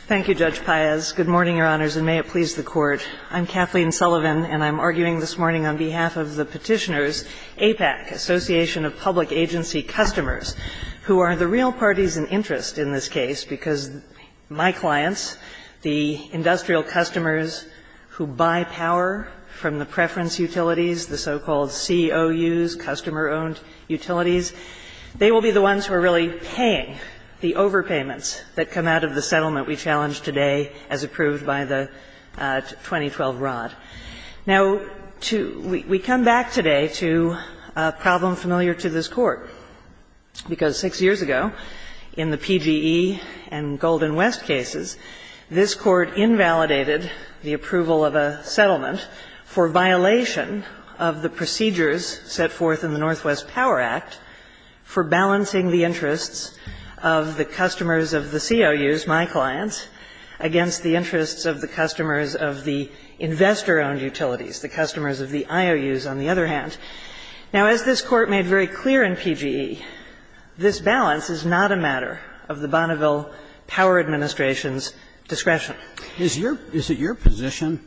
Thank you, Judge Payes. Good morning, Your Honors, and may it please the Court. I'm Kathleen Sullivan, and I'm arguing this morning on behalf of the petitioners, APAC, Association of Public Agency Customers, who are the real parties in interest in this case because my clients, the industrial customers who buy power from the preference utilities, the so-called COUs, customer-owned utilities, they will be the ones who are really paying the overpayments that come out of the settlement we've signed. We challenge today as approved by the 2012 Rod. Now, we come back today to a problem familiar to this Court because six years ago, in the PGE and Golden West cases, this Court invalidated the approval of a settlement for violation of the procedures set forth in the Northwest Power Act for balancing the interests of the customers of the COUs, my clients, against the interests of the customers of the investors. Now, as this Court made very clear in PGE, this balance is not a matter of the Bonneville Power Administration's discretion. Is it your position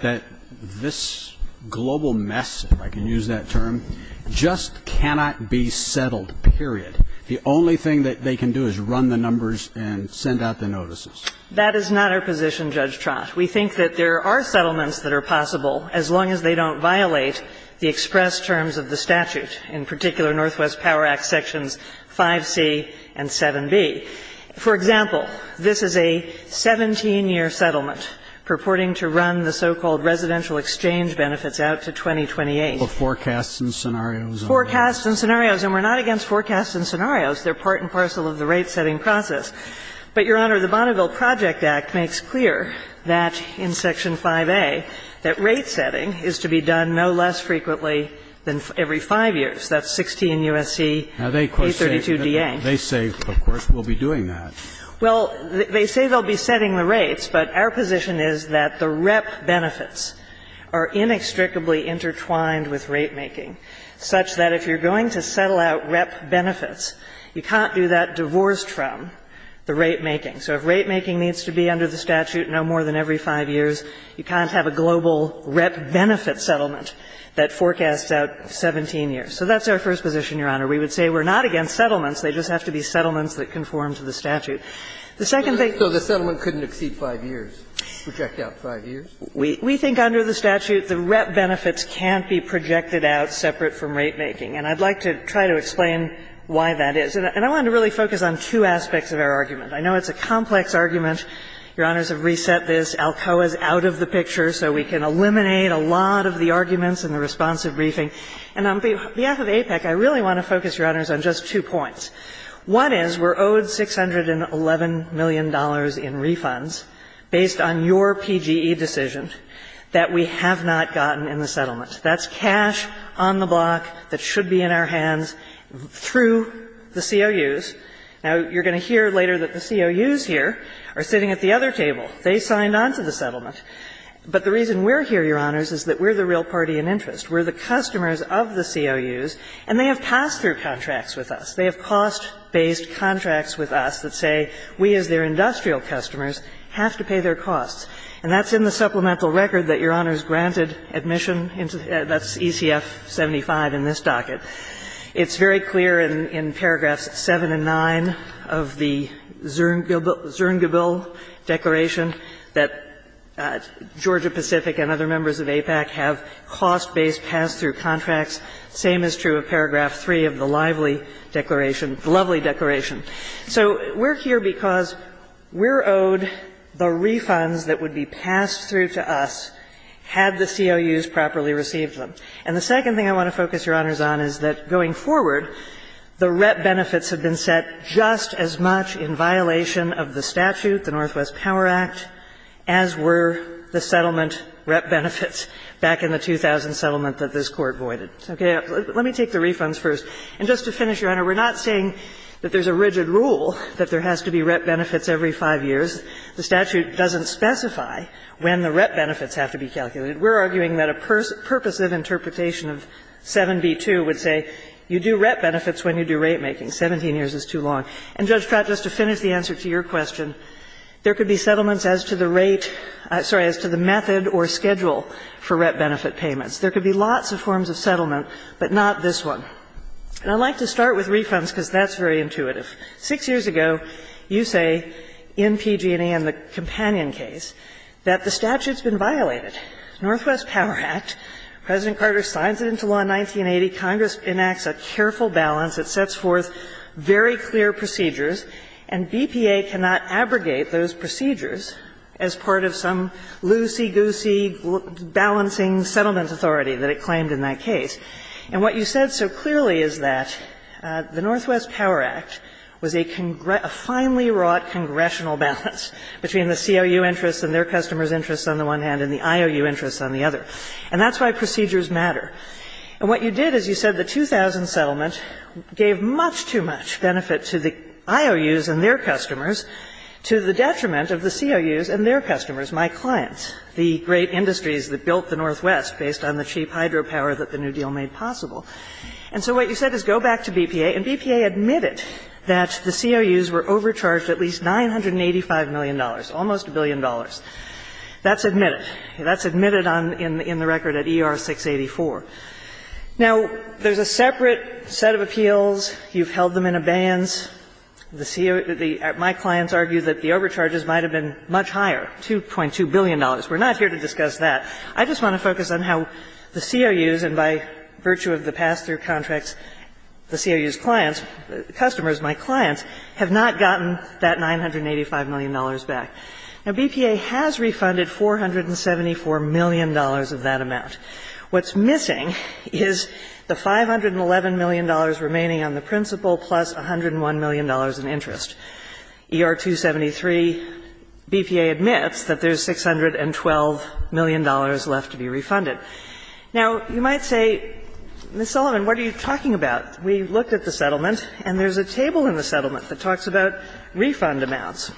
that this global mess, if I can use that term, just cannot be settled, period? The only thing that they can do is run the numbers and send out the notices? That is not our position, Judge Trost. We think that there are settlements that are possible as long as they don't violate the express terms of the statute, in particular, Northwest Power Act sections 5C and 7B. For example, this is a 17-year settlement purporting to run the so-called residential exchange benefits out to 2028. Forecasts and scenarios. Forecasts and scenarios. And we're not against forecasts and scenarios. They're part and parcel of the rate-setting process. But, Your Honor, the Bonneville Project Act makes clear that, in Section 5A, that rate-setting is to be done no less frequently than every five years. That's 16 U.S.C. 832-DA. They say, of course, we'll be doing that. Well, they say they'll be setting the rates, but our position is that the rep benefits are inextricably intertwined with rate-making, such that if you're going to settle out rep benefits, you can't do that divorced from the rate-making. So if rate-making needs to be under the statute no more than every five years, you can't have a global rep benefit settlement that forecasts out 17 years. So that's our first position, Your Honor. We would say we're not against settlements. They just have to be settlements that conform to the statute. The second thing — So the settlement couldn't exceed five years, project out five years? We think under the statute the rep benefits can't be projected out separate from rate-making. And I'd like to try to explain why that is. And I wanted to really focus on two aspects of our argument. I know it's a complex argument. Your Honors have reset this. Alcoa is out of the picture. So we can eliminate a lot of the arguments in the responsive briefing. And on behalf of APEC, I really want to focus, Your Honors, on just two points. One is we're owed $611 million in refunds based on your PGE decisions that we have not gotten in the settlement. That's cash on the block that should be in our hands through the COUs. Now, you're going to hear later that the COUs here are sitting at the other table. They signed on to the settlement. But the reason we're here, Your Honors, is that we're the real party in interest. We're the customers of the COUs, and they have pass-through contracts with us. They have cost-based contracts with us that say we, as their industrial customers, have to pay their costs. And that's in the supplemental record that Your Honors granted admission. That's ECF 75 in this docket. It's very clear in Paragraphs 7 and 9 of the Zerngebel Declaration that Georgia Pacific and other members of APEC have cost-based pass-through contracts. Same is true of Paragraph 3 of the Lively Declaration, Lovely Declaration. So we're here because we're owed the refund that would be passed through to us had the COUs properly received them. And the second thing I want to focus Your Honors on is that going forward, the rep benefits have been set just as much in violation of the statute, the Northwest Power Act, as were the settlement rep benefits back in the 2000 settlement that this Court voided. Okay. Let me take the refunds first. And just to finish, Your Honor, we're not saying that there's a rigid rule that there has to be rep benefits every five years. The statute doesn't specify when the rep benefits have to be calculated. We're arguing that a purposive interpretation of 7B2 would say you do rep benefits when you do rate making. Seventeen years is too long. And, Judge Pratt, just to finish the answer to your question, there could be settlements as to the rate, sorry, as to the method or schedule for rep benefit payments. There could be lots of forms of settlement, but not this one. And I like to start with refunds because that's very intuitive. Six years ago, you say, in PG&E and the companion case, that the statute's been violated. Northwest Power Act, President Carter signs it into law in 1980, Congress enacts a careful balance that sets forth very clear procedures, and BPA cannot abrogate those procedures as part of some loosey-goosey balancing settlement authority that it claimed in that case. And what you said so clearly is that the Northwest Power Act was a finely wrought congressional balance between the COU interests and their customers' interests on the one hand and the IOU interests on the other. And that's why procedures matter. And what you did is you said the 2000 settlement gave much too much benefit to the IOUs and their customers to the detriment of the COUs and their customers, my clients, the great industries that built the Northwest based on the cheap hydropower that the New Deal made possible. And so what you said is go back to BPA, and BPA admitted that the COUs were overcharged at least $985 million, almost $1 billion. That's admitted. That's admitted in the record at ER 684. Now, there's a separate set of appeals. You've held them in abeyance. My clients argue that the overcharges might have been much higher, $2.2 billion. We're not here to discuss that. I just want to focus on how the COUs, and by virtue of the pass-through contracts, the COUs' clients, customers, my clients, have not gotten that $985 million back. Now, BPA has refunded $474 million of that amount. What's missing is the $511 million remaining on the principal plus $101 million in interest. ER 273, BPA admits that there's $612 million left to be refunded. Now, you might say, Ms. Sullivan, what are you talking about? We looked at the settlement, and there's a table in the settlement that talks about refund amounts.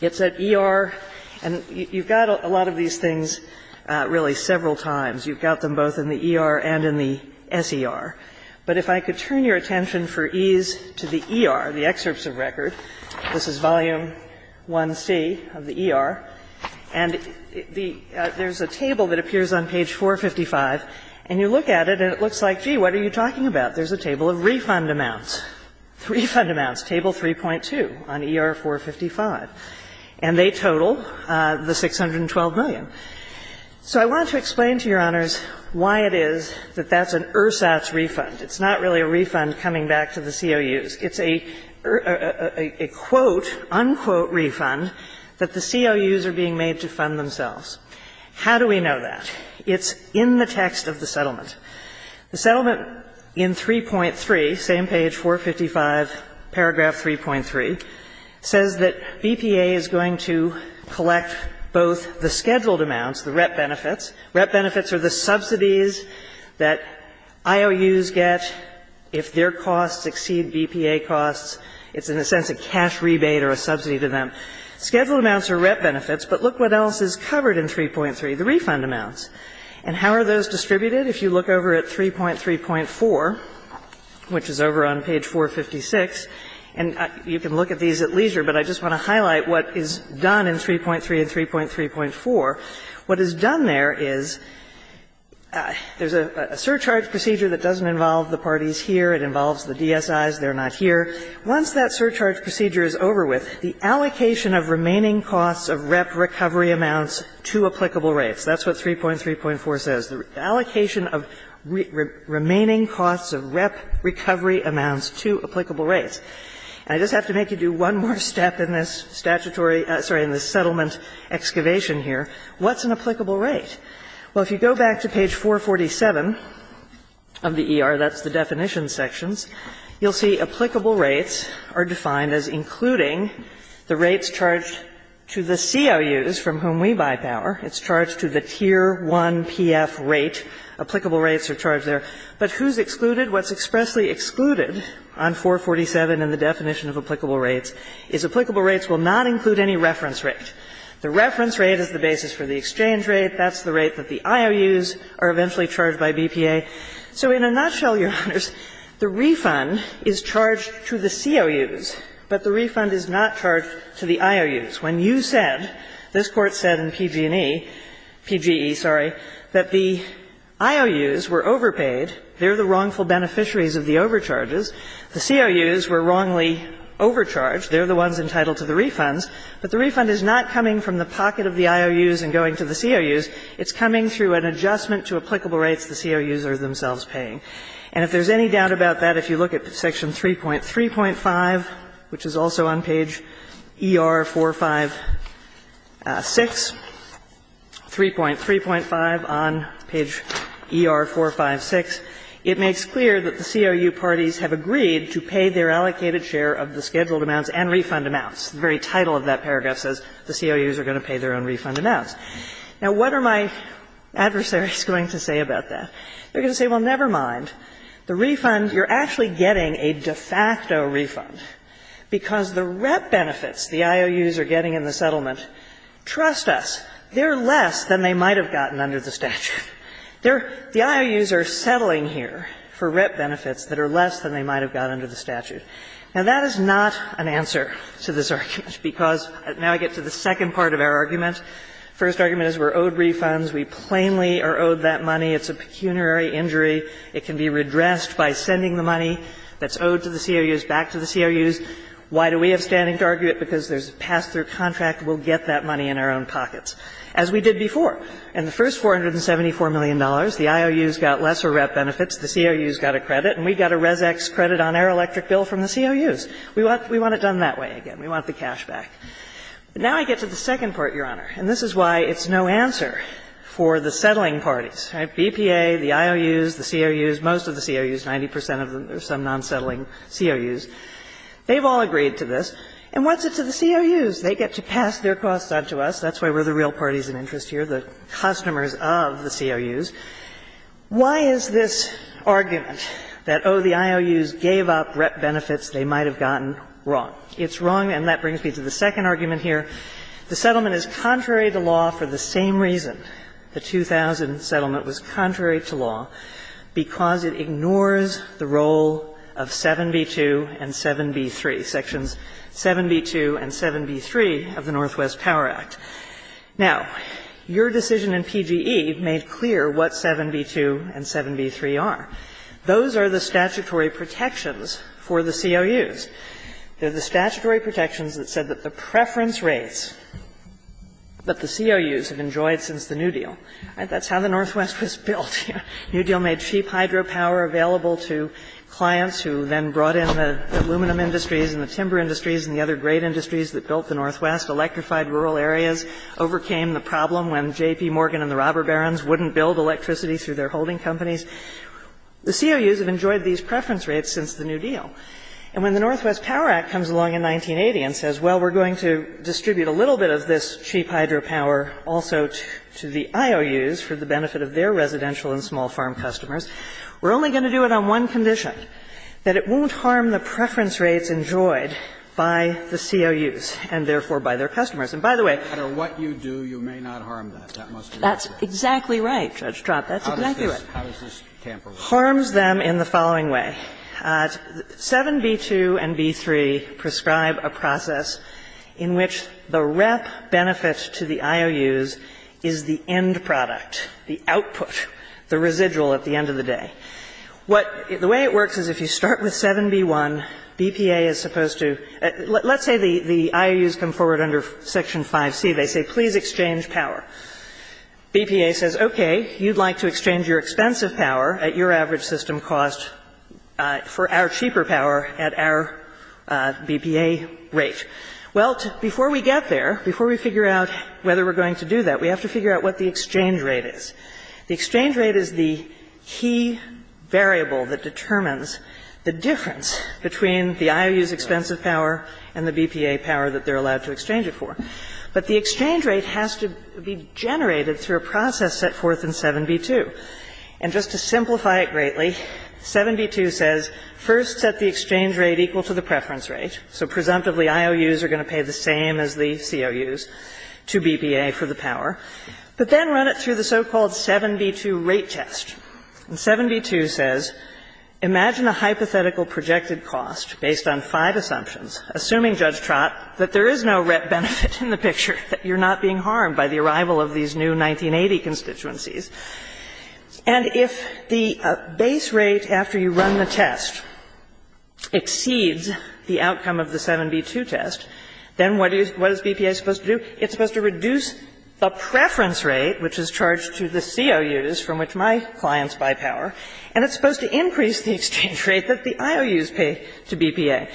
It's at ER, and you've got a lot of these things really several times. You've got them both in the ER and in the SER. But if I could turn your attention for ease to the ER, the excerpts of records, this is volume 1C of the ER, and there's a table that appears on page 455, and you look at it, and it looks like, gee, what are you talking about? There's a table of refund amounts. Refund amounts, table 3.2 on ER 455, and they total the $612 million. So I want to explain to your honors why it is that that's an ERSAS refund. It's not really a refund coming back to the COUs. It's a quote, unquote refund that the COUs are being made to fund themselves. How do we know that? It's in the text of the settlement. The settlement in 3.3, same page, 455, paragraph 3.3, says that EPA is going to collect both the scheduled amounts, the rep benefits. Rep benefits are the subsidies that IOUs get if their costs exceed EPA costs. It's in a sense a cash rebate or a subsidy to them. Scheduled amounts are rep benefits, but look what else is covered in 3.3, the refund amounts. And how are those distributed? If you look over at 3.3.4, which is over on page 456, and you can look at these at leisure, but I just want to highlight what is done in 3.3 and 3.3.4. What is done there is there's a surcharge procedure that doesn't involve the parties here. It involves the DSIs. They're not here. Once that surcharge procedure is over with, the allocation of remaining costs of rep recovery amounts to applicable rates. That's what 3.3.4 says. Allocation of remaining costs of rep recovery amounts to applicable rates. And I just have to make you do one more step in this statutory, sorry, in this settlement excavation here. What's an applicable rate? Well, if you go back to page 447 of the ER, that's the definition section, you'll see applicable rates are defined as including the rates charged to the COUs from whom we buy power. It's charged to the Tier 1 PF rate. Applicable rates are charged there. But who's excluded? What's expressly excluded on 447 in the definition of applicable rates is applicable rates will not include any reference rate. The reference rate is the basis for the exchange rate. That's the rate that the IOUs are eventually charged by BPA. So in a nutshell, Your Honors, the refund is charged to the COUs, but the refund is not charged to the IOUs. When you said, this Court said in PG&E, PGE, sorry, that the IOUs were overpaid, they're the wrongful beneficiaries of the overcharges. The COUs were wrongly overcharged. They're the ones entitled to the refund. But the refund is not coming from the pocket of the IOUs and going to the COUs. It's coming through an adjustment to applicable rates the COUs are themselves paying. And if there's any doubt about that, if you look at Section 3.3.5, which is also on page ER456, 3.3.5 on page ER456, it makes clear that the COU parties have agreed to pay their allocated share of the scheduled amounts and refund amounts. The very title of that paragraph says the COUs are going to pay their own refund amounts. Now, what are my adversaries going to say about that? They're going to say, well, never mind. The refund, you're actually getting a de facto refund because the RIP benefits the IOUs are getting in the settlement, trust us, they're less than they might have gotten under the statute. The IOUs are settling here for RIP benefits that are less than they might have gotten under the statute. Now, that is not an answer to this argument because now I get to the second part of our argument. The first argument is we're owed refunds. We plainly are owed that money. It's a pecuniary injury. It can be redressed by sending the money that's owed to the COUs back to the COUs. Why do we have standing to argue it? Because there's a pass-through contract. We'll get that money in our own pockets, as we did before. And the first $474 million, the IOUs got lesser RIP benefits, the COUs got a credit, and we got a Res-Ex credit on our electric bill from the COUs. We want it done that way again. We want the cash back. Now I get to the second part, Your Honor, and this is why it's no answer for the settling parties. Right? BPA, the IOUs, the COUs, most of the COUs, 90 percent of them, there's some non-settling COUs. They've all agreed to this. And what's this to the COUs? They get to pass their costs out to us. That's why we're the real parties of interest here, the customers of the COUs. Why is this argument that, oh, the IOUs gave up RIP benefits they might have gotten, wrong? It's wrong, and that brings me to the second argument here. The settlement is contrary to law for the same reasons. The 2000 settlement was contrary to law because it ignores the role of 7b-2 and 7b-3, sections 7b-2 and 7b-3 of the Northwest Power Act. Now, your decision in PGE made clear what 7b-2 and 7b-3 are. Those are the statutory protections for the COUs. They're the statutory protections that said that the preference rates that the COUs have enjoyed since the New Deal. That's how the Northwest was built. New Deal made cheap hydropower available to clients who then brought in the aluminum industries and the timber industries and the other great industries that built the Northwest, electrified rural areas, overcame the problem when J.P. Morgan and the robber barons wouldn't build electricity through their holding companies. The COUs have enjoyed these preference rates since the New Deal. And when the Northwest Power Act comes along in 1980 and says, well, we're going to distribute a little bit of this cheap hydropower also to the IOUs for the benefit of their residential and small farm customers, we're only going to do it on one condition, that it won't harm the preference rates enjoyed by the COUs and, therefore, by their customers. And, by the way, No matter what you do, you may not harm that. That's exactly right, Judge Stroud. How does this tamper with it? It harms them in the following way. 7B2 and B3 prescribe a process in which the rep benefit to the IOUs is the end product, the output, the residual at the end of the day. The way it works is if you start with 7B1, BPA is supposed to – let's say the IOUs come forward under Section 5C. They say, please exchange power. BPA says, okay, you'd like to exchange your expensive power at your average system cost for our cheaper power at our BPA rate. Well, before we get there, before we figure out whether we're going to do that, we have to figure out what the exchange rate is. The exchange rate is the key variable that determines the difference between the IOUs' expensive power and the BPA power that they're allowed to exchange it for. But the exchange rate has to be generated through a process set forth in 7B2. And just to simplify it greatly, 7B2 says, first, set the exchange rate equal to the preference rate. So, presumptively, IOUs are going to pay the same as the COUs to BPA for the power. But then run it through the so-called 7B2 rate test. And 7B2 says, imagine a hypothetical projected cost based on five assumptions, assuming, Judge Trott, that there is no benefit in the picture, that you're not being harmed by the arrival of these new 1980 constituencies. And if the base rate after you run the test exceeds the outcome of the 7B2 test, then what is BPA supposed to do? It's supposed to reduce a preference rate, which is charged to the COUs, from which my clients buy power. And it's supposed to increase the exchange rate that the IOUs pay to BPA.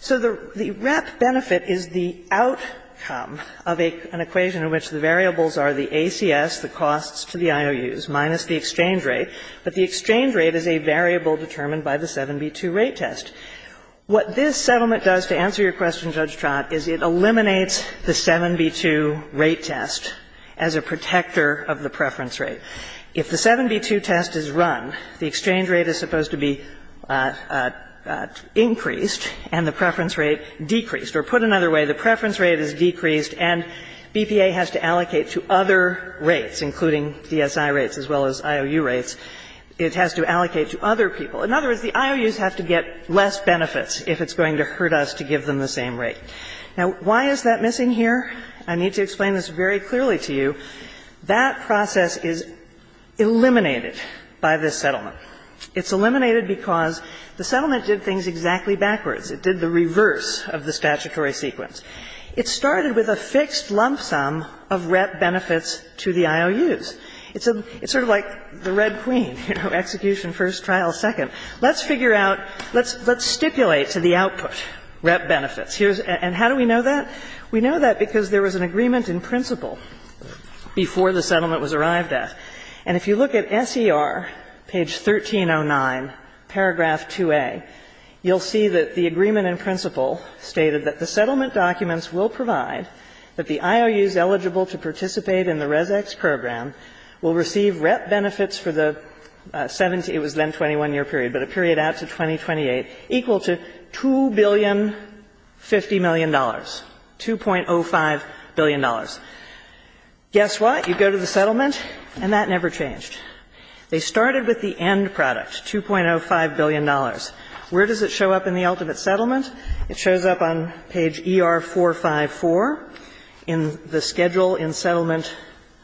So, the net benefit is the outcome of an equation in which the variables are the ACS, the costs to the IOUs, minus the exchange rate. But the exchange rate is a variable determined by the 7B2 rate test. What this settlement does, to answer your question, Judge Trott, is it eliminates the 7B2 rate test as a protector of the preference rate. If the 7B2 test is run, the exchange rate is supposed to be increased and the preference rate decreased. Or put another way, the preference rate is decreased and BPA has to allocate to other rates, including CSI rates as well as IOU rates. It has to allocate to other people. In other words, the IOUs have to get less benefits if it's going to hurt us to give them the same rate. Now, why is that missing here? I need to explain this very clearly to you. That process is eliminated by this settlement. It's eliminated because the settlement did things exactly backwards. It did the reverse of the statutory sequence. It started with a fixed lump sum of RET benefits to the IOUs. It's sort of like the Red Queen, execution first, trial second. Let's figure out, let's stipulate to the output RET benefits. And how do we know that? We know that because there was an agreement in principle before the settlement was arrived at. And if you look at SER, page 1309, paragraph 2A, you'll see that the agreement in principle stated that the settlement documents will provide that the IOUs eligible to participate in the ResEx program will receive RET benefits for the, it was then 21-year period, but a period after 2028, equal to $2,050,000,000, $2.05 billion. Guess what? You go to the settlement and that never changed. They started with the end products, $2.05 billion. Where does it show up in the ultimate settlement? It shows up on page ER454 in the schedule in settlement,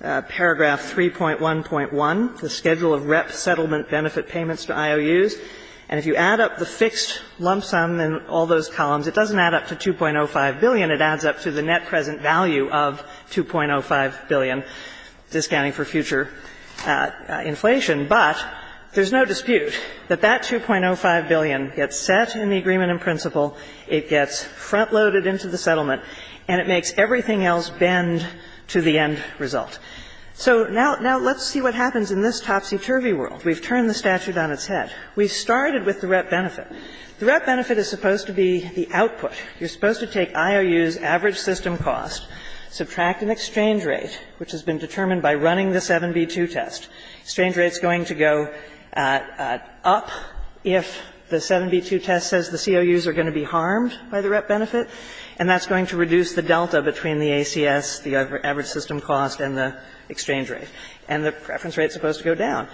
paragraph 3.1.1, the schedule of RET settlement benefit payments to IOUs. And if you add up the fixed lump sum and all those columns, it doesn't add up to $2.05 billion. It adds up to the net present value of $2.05 billion, discounting for future inflation. But there's no dispute that that $2.05 billion gets set in the agreement in principle, it gets front-loaded into the settlement, and it makes everything else bend to the end result. So now let's see what happens in this topsy-turvy world. We've turned the statute on its head. We started with the RET benefit. The RET benefit is supposed to be the output. You're supposed to take IOUs average system cost, subtract an exchange rate, which has been determined by running the 7B2 test. The exchange rate is going to go up if the 7B2 test says the COUs are going to be harmed by the RET benefit, and that's going to reduce the delta between the ACS, the average system cost, and the exchange rate. And the preference rate is supposed to go down.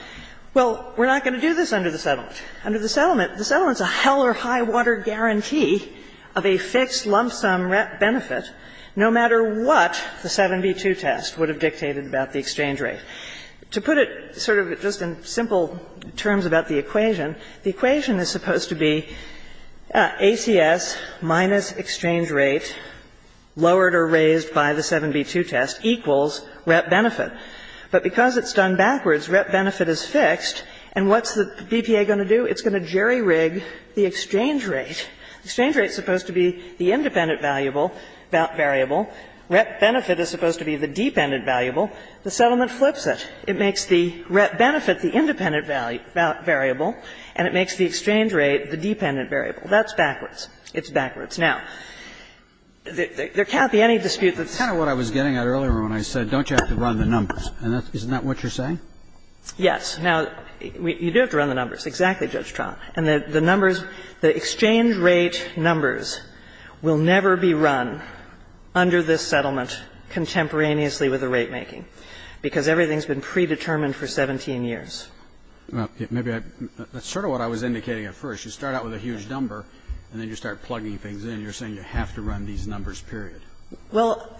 Well, we're not going to do this under the settlement. Under the settlement, the settlement is a hell or high water guarantee of a fixed lump sum RET benefit, no matter what the 7B2 test would have dictated about the exchange rate. To put it sort of just in simple terms about the equation, the equation is supposed to be ACS minus exchange rate, lowered or raised by the 7B2 test, equals RET benefit. But because it's done backwards, RET benefit is fixed, and what's the BTA going to do? It's going to jerry-rig the exchange rate. The exchange rate is supposed to be the independent variable. RET benefit is supposed to be the dependent variable. The settlement flips it. It makes the RET benefit the independent variable, and it makes the exchange rate the dependent variable. That's backwards. It's backwards. Now, there can't be any dispute that's kind of what I was getting at earlier when I said, don't you have to run the numbers, and isn't that what you're saying? Yes. Now, you do have to run the numbers. Exactly, Judge Trout. The exchange rate numbers will never be run under this settlement contemporaneously with the rate making because everything's been predetermined for 17 years. That's sort of what I was indicating at first. You start out with a huge number, and then you start plugging things in, and you're saying you have to run these numbers, period. Well,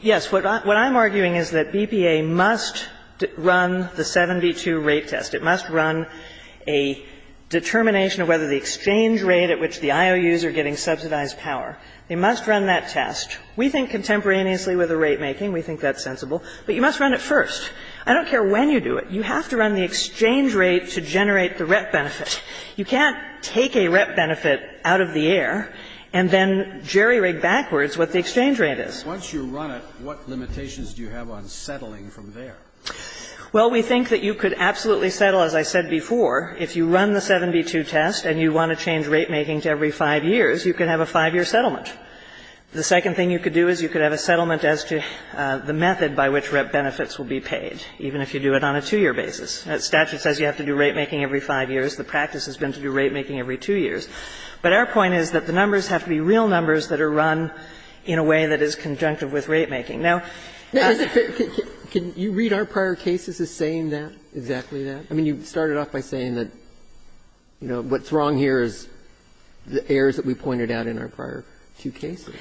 yes. What I'm arguing is that BPA must run the 7B2 rate test. It must run a determination of whether the exchange rate at which the IOUs are getting subsidized power. They must run that test. We think contemporaneously with the rate making. We think that's sensible. But you must run it first. I don't care when you do it. You have to run the exchange rate to generate the RET benefit. You can't take a RET benefit out of the air and then jerry-rig backwards what the exchange rate is. Once you run it, what limitations do you have on settling from there? Well, we think that you could absolutely settle, as I said before. If you run the 7B2 test and you want to change rate making to every five years, you could have a five-year settlement. The second thing you could do is you could have a settlement as to the method by which RET benefits will be paid, even if you do it on a two-year basis. The statute says you have to do rate making every five years. The practice has been to do rate making every two years. But our point is that the numbers have to be real numbers that are run in a way that is conjunctive with rate making. Can you read our prior cases as saying that, exactly that? I mean, you started off by saying that, you know, what's wrong here is the errors that we pointed out in our prior two cases.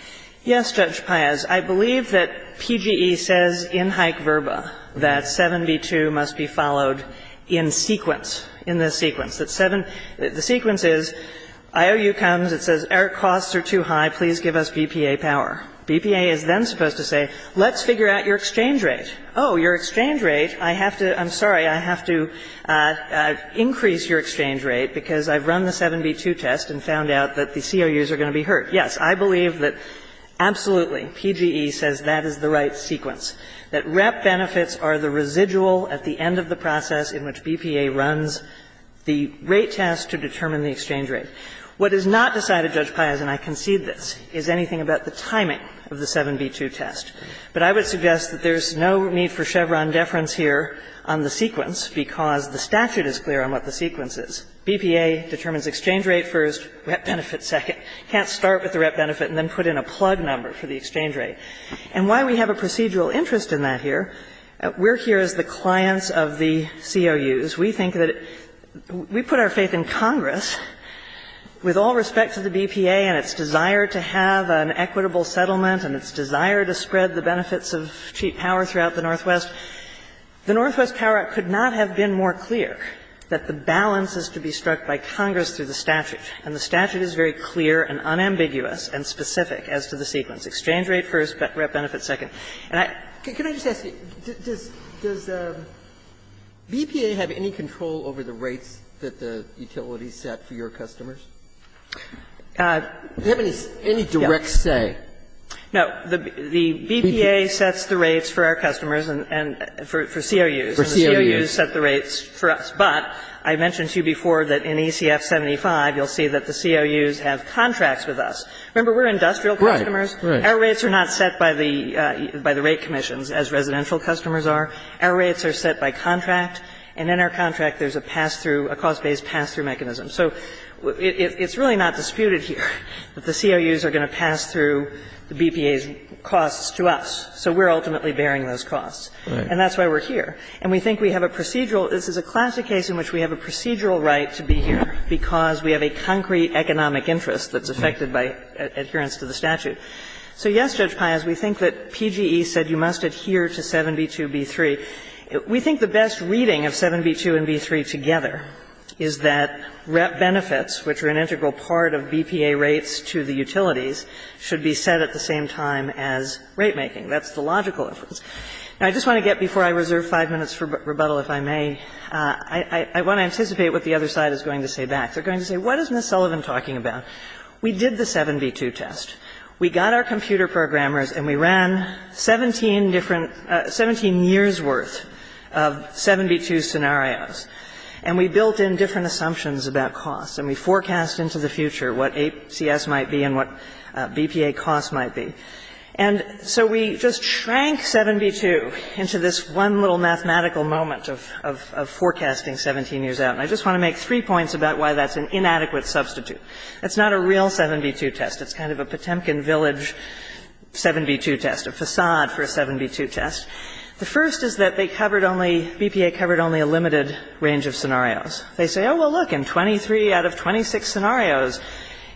Yes, Judge Paez. I believe that PGE says in hype verba that 7B2 must be followed in sequence, in this sequence. The sequence is IOU comes, it says air costs are too high, please give us BPA power. BPA is then supposed to say, let's figure out your exchange rate. Oh, your exchange rate, I have to, I'm sorry, I have to increase your exchange rate because I've run the 7B2 test and found out that the COUs are going to be hurt. Yes, I believe that absolutely, PGE says that is the right sequence, that RET benefits are the residual at the end of the process in which BPA runs the rate test to determine the exchange rate. What is not decided, Judge Paez, and I concede this, is anything about the timing of the 7B2 test. But I would suggest that there's no need for Chevron deference here on the sequence because the statute is clear on what the sequence is. BPA determines exchange rate first, RET benefit second. Can't start with the RET benefit and then put in a plug number for the exchange rate. And why we have a procedural interest in that here, we're here as the clients of the COUs. We think that we put our faith in Congress with all respect to the BPA and its desire to have an equitable settlement and its desire to spread the benefits of cheap power throughout the Northwest. The Northwest Power Act could not have been more clear that the balance is to be struck by Congress through the statute. And the statute is very clear and unambiguous and specific as to the sequence, exchange rate first, RET benefit second. Can I just ask you, does the BPA have any control over the rates that the utilities set for your customers? Do you have any direct say? No. The BPA sets the rates for our customers and for COUs. For COUs. And the COUs set the rates for us. But I mentioned to you before that in ACF 75, you'll see that the COUs have contracts with us. Remember, we're industrial customers. Right, right. Our rates are not set by the rate commission, as residential customers are. Our rates are set by contract. And in our contract, there's a pass-through, a cost-based pass-through mechanism. So it's really not disputed here that the COUs are going to pass through the BPA's costs to us. So we're ultimately bearing those costs. And that's why we're here. And we think we have a procedural – this is a classic case in which we have a procedural right to be here because we have a concrete economic interest that's affected by adherence to the statute. So, yes, Judge Paz, we think that PGE said you must adhere to 7B2B3. We think the best reading of 7B2 and B3 together is that benefits, which are an integral part of BPA rates to the utilities, should be set at the same time as rate making. That's the logical inference. And I just want to get before I reserve five minutes for rebuttal, if I may, I want to anticipate what the other side is going to say back. They're going to say, what is Ms. Sullivan talking about? We did the 7B2 test. We got our computer programmers and we ran 17 years' worth of 7B2 scenarios. And we built in different assumptions about costs. And we forecast into the future what ACS might be and what BPA costs might be. And so we just shrank 7B2 into this one little mathematical moment of forecasting 17 years out. And I just want to make three points about why that's an inadequate substitute. It's not a real 7B2 test. It's kind of a Potemkin Village 7B2 test, a facade for a 7B2 test. The first is that BPA covered only a limited range of scenarios. They say, oh, well, look, in 23 out of 26 scenarios,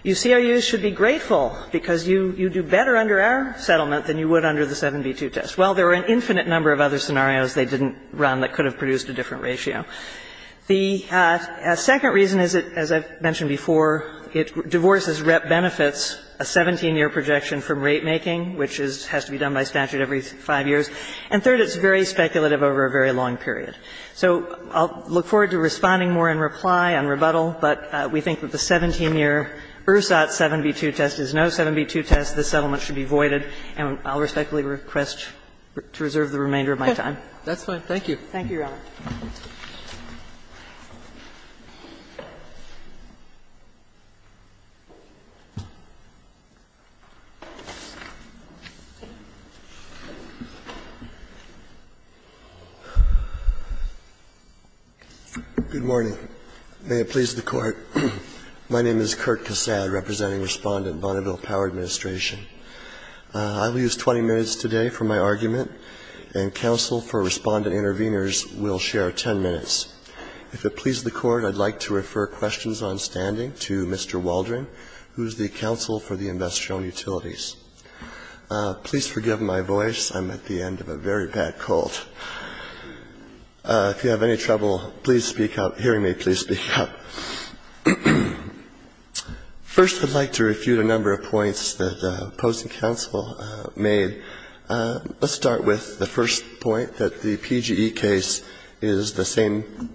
you COUs should be grateful because you do better under our settlement than you would under the 7B2 test. Well, there are an infinite number of other scenarios they didn't run that could have produced a different ratio. The second reason is, as I mentioned before, divorce benefits a 17-year projection from rapemaking, which has to be done by statute every five years. And third, it's very speculative over a very long period. So I'll look forward to responding more in reply on rebuttal. But we think that the 17-year ERSOT 7B2 test is no 7B2 test. The settlement should be voided. And I'll respectfully request to reserve the remainder of my time. That's fine. Thank you. Thank you, Your Honor. Good morning. May it please the Court. My name is Kirk Cassad, representing Respondent Bonneville Power Administration. I will use 20 minutes today for my argument. And counsel for respondent interveners will share 10 minutes. If it pleases the Court, I'd like to refer questions on standing to Mr. Waldron, who is the Counsel for the Investor-Owned Utilities. Please forgive my voice. I'm at the end of a very bad cold. If you have any trouble hearing me, please speak up. First, I'd like to review the number of points that opposing counsel made. Let's start with the first point, that the PGE case is the same,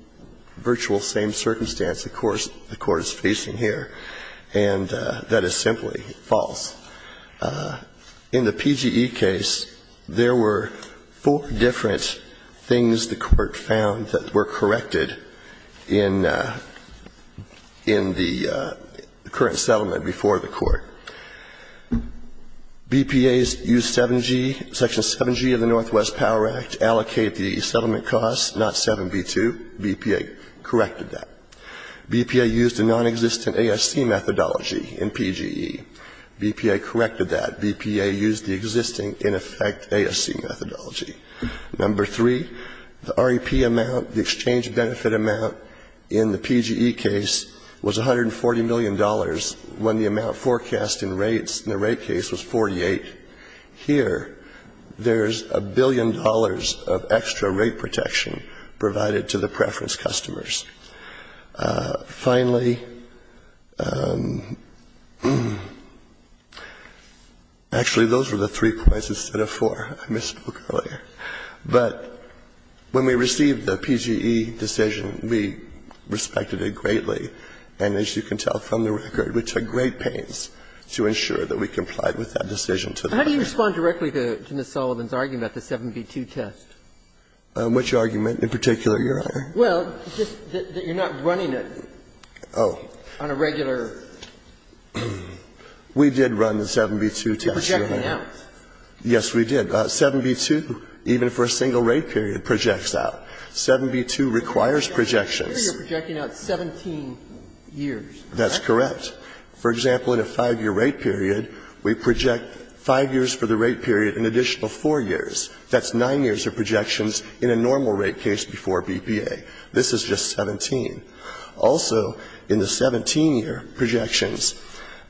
virtual same circumstance the Court is facing here. And that is simply false. In the PGE case, there were four different things the Court found that were corrected in the current settlement before the Court. BPA used Section 7G of the Northwest Power Act to allocate the settlement costs, not 7B2. BPA corrected that. BPA used a non-existent ASC methodology in PGE. BPA corrected that. BPA used the existing in effect ASC methodology. Number three, the REP amount, the exchange benefit amount in the PGE case, was $140 million when the amount forecast in the rate case was 48. Here, there's a billion dollars of extra rate protection provided to the preference customers. Finally, actually, those were the three points instead of four. I misspoke earlier. But when we received the PGE decision, we respected it greatly. And as you can tell from the record, we took great pains to ensure that we complied with that decision. How do you respond directly to Ms. Sullivan's argument about the 7B2 test? Which argument in particular, Your Honor? Well, it's just that you're not running it on a regular... We did run the 7B2 test, Your Honor. You projected it out. Yes, we did. 7B2, even for a single rate period, projects out. 7B2 requires projections. Here, you're projecting out 17 years, correct? That's correct. For example, in a five-year rate period, we project five years for the rate period, an additional four years. That's nine years of projections in a normal rate case before BPA. This is just 17. Also, in the 17-year projections,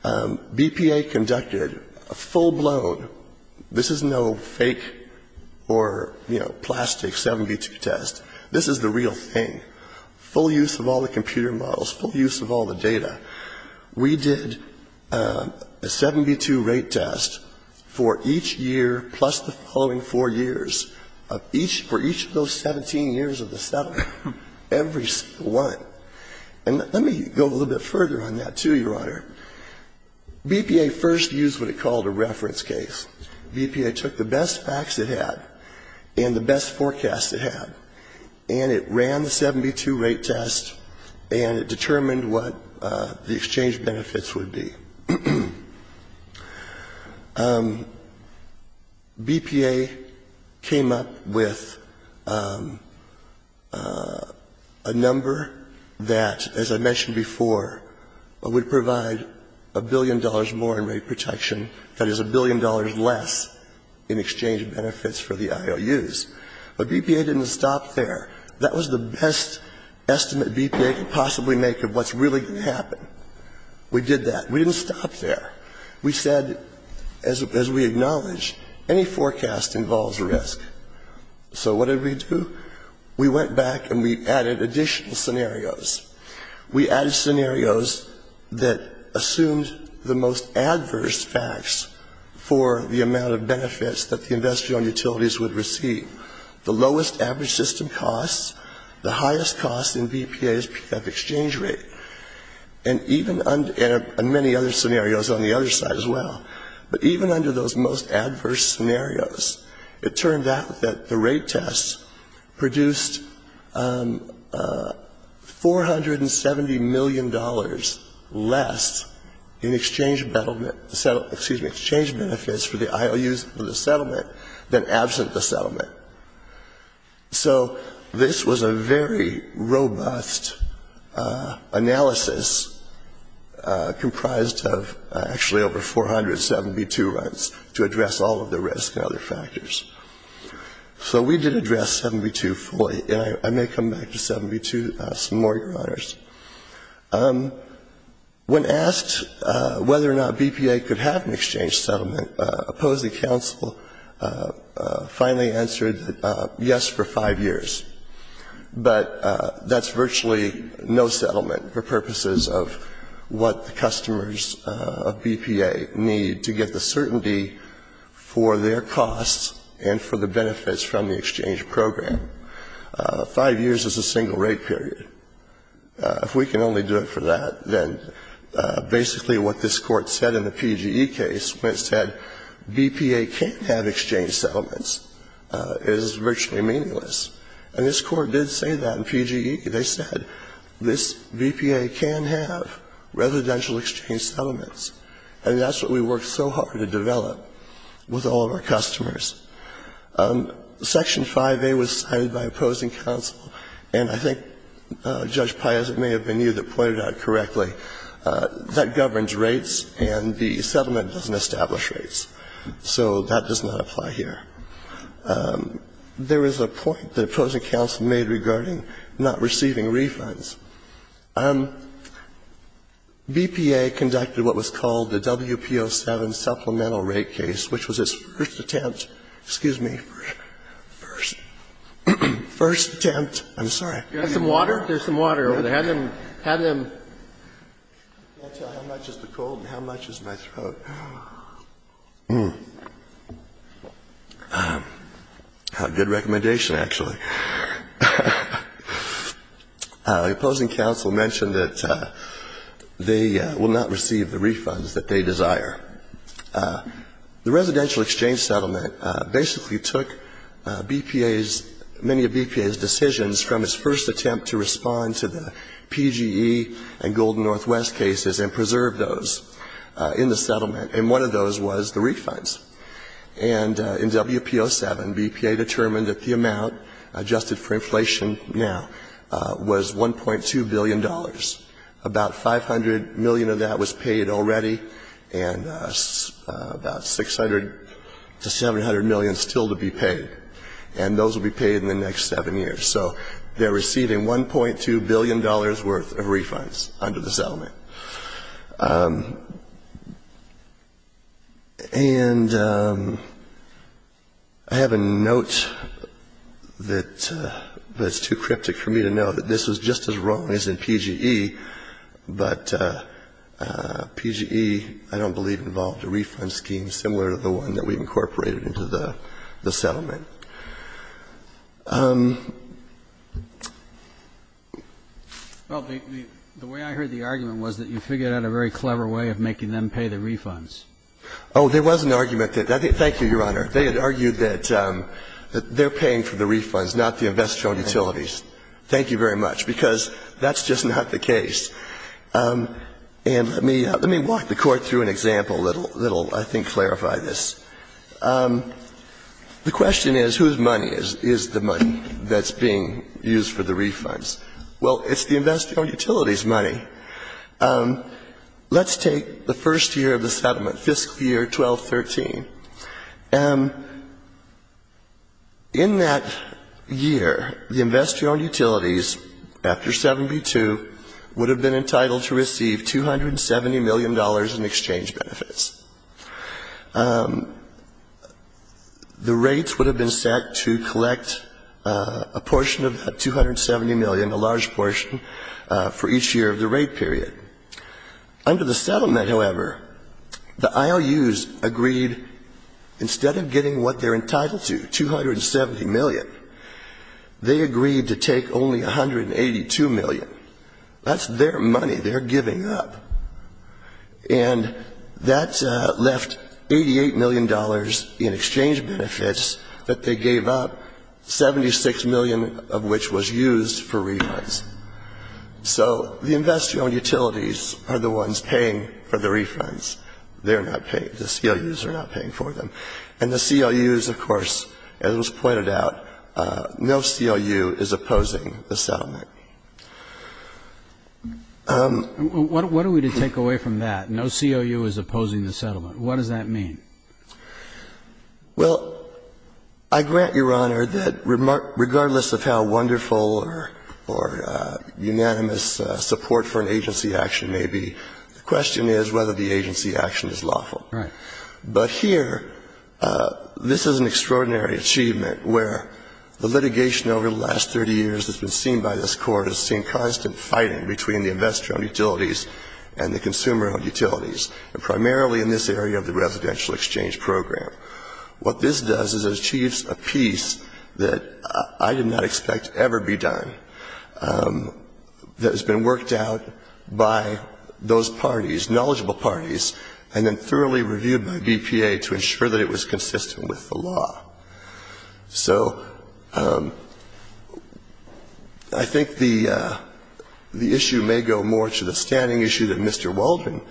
BPA conducted a full-blown... This is no fake or, you know, plastic 7B2 test. This is the real thing. Full use of all the computer models, full use of all the data. We did a 7B2 rate test for each year plus the following four years. For each of those 17 years of the 7, every one. And let me go a little bit further on that, too, Your Honor. BPA first used what it called a reference case. BPA took the best facts it had and the best forecasts it had, and it ran the 7B2 rate test, and it determined what the exchange benefits would be. BPA came up with a number that, as I mentioned before, would provide a billion dollars more in rate protection. That is a billion dollars less in exchange benefits for the IOUs. But BPA didn't stop there. That was the best estimate BPA could possibly make of what's really going to happen. We did that. We didn't stop there. We said, as we acknowledge, any forecast involves risk. So, what did we do? We went back and we added additional scenarios. We added scenarios that assumed the most adverse facts for the amount of benefits that the investment utilities would receive. The lowest average system costs, the highest cost in BPAs at the exchange rate, and many other scenarios on the other side as well. But even under those most adverse scenarios, it turned out that the rate test produced $470 million less in exchange benefits for the IOUs for the settlement than absent the settlement. So, this was a very robust analysis comprised of actually over 472 runs to address all of the risk and other factors. So, we did address 7B2 fully, and I may come back to 7B2 some more, Your Honors. When asked whether or not BPA could have an exchange settlement, opposing counsel finally answered yes for five years. But that's virtually no settlement for purposes of what the customers of BPA need to get the certainty for their costs and for the benefits from the exchange program. Five years is a single rate period. If we can only do it for that, then basically what this court said in the PGE case was that BPA can't have exchange settlements. It is virtually meaningless. And this court did say that in PGE. They said this BPA can have residential exchange settlements, and that's what we worked so hard to develop with all of our customers. Section 5A was signed by opposing counsel, and I think Judge Piazza, it may have been you that pointed out correctly, that governs rates and the settlement doesn't establish rates. So, that does not apply here. There is a point that opposing counsel made regarding not receiving refunds. BPA conducted what was called the WPO7 Supplemental Rate Case, which was its first attempt. Excuse me. First attempt. I'm sorry. There's some water over there. I'll tell you how much is the cold and how much is my throat. Good recommendation, actually. The opposing counsel mentioned that they will not receive the refunds that they desire. The residential exchange settlement basically took many of BPA's decisions from its first attempt to respond to the PGE and Golden Northwest cases and preserve those in the settlement, and one of those was the refunds. And in WPO7, BPA determined that the amount adjusted for inflation now was $1.2 billion. About $500 million of that was paid already, and about $600 to $700 million is still to be paid, and those will be paid in the next seven years. So, they're receiving $1.2 billion worth of refunds under the settlement. And I have a note that's too cryptic for me to note. This is just as wrong as the PGE, but PGE, I don't believe, involved a refund scheme similar to the one that we incorporated into the settlement. Well, the way I heard the argument was that you figured out a very clever way of making them pay the refunds. Oh, there was an argument. Thank you, Your Honor. They had argued that they're paying for the refunds, not the investor-owned utilities. Thank you very much, because that's just not the case. And let me walk the Court through an example that will, I think, clarify this. The question is, whose money is the money that's being used for the refunds? Well, it's the investor-owned utilities' money. Let's take the first year of the settlement, fiscal year 12-13. And in that year, the investor-owned utilities, after 72, would have been entitled to receive $270 million in exchange benefits. The rates would have been set to collect a portion of $270 million, a large portion, for each year of the rate period. Under the settlement, however, the IOUs agreed, instead of getting what they're entitled to, $270 million, they agreed to take only $182 million. That's their money. They're giving up. And that left $88 million in exchange benefits that they gave up, 76 million of which was used for refunds. So, the investor-owned utilities are the ones paying for the refunds. They're not paying. The CLUs are not paying for them. And the CLUs, of course, as was pointed out, no CLU is opposing the settlement. What are we to take away from that? No CLU is opposing the settlement. What does that mean? Well, I grant Your Honor that regardless of how wonderful or unanimous support for an agency action may be, the question is whether the agency action is lawful. But here, this is an extraordinary achievement where the litigation over the last 30 years that's been seen by this court has seen constant fighting between the investor-owned utilities and the consumer-owned utilities, and primarily in this area of the residential exchange program. What this does is it achieves a piece that I did not expect to ever be done that has been worked out by those parties, and then thoroughly reviewed by BPA to ensure that it was consistent with the law. So, I think the issue may go more to the standing issue that Mr. Walden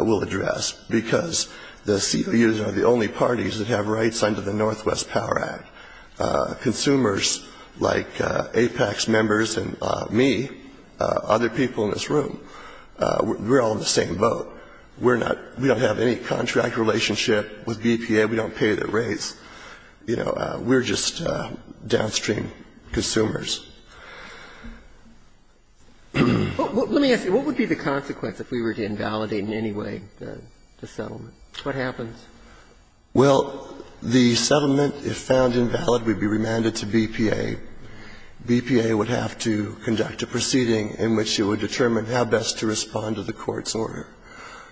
will address, because the CLUs are the only parties that have rights under the Northwest Power Act. Consumers like APEX members and me, other people in this room, we're all in the same boat. We don't have any contract relationship with BPA. We don't pay the rates. We're just downstream consumers. Let me ask you, what would be the consequence if we were to invalidate in any way the settlement? What happens? Well, the settlement is found invalid. We'd be remanded to BPA. BPA would have to conduct a proceeding in which it would determine how best to respond to the court's order,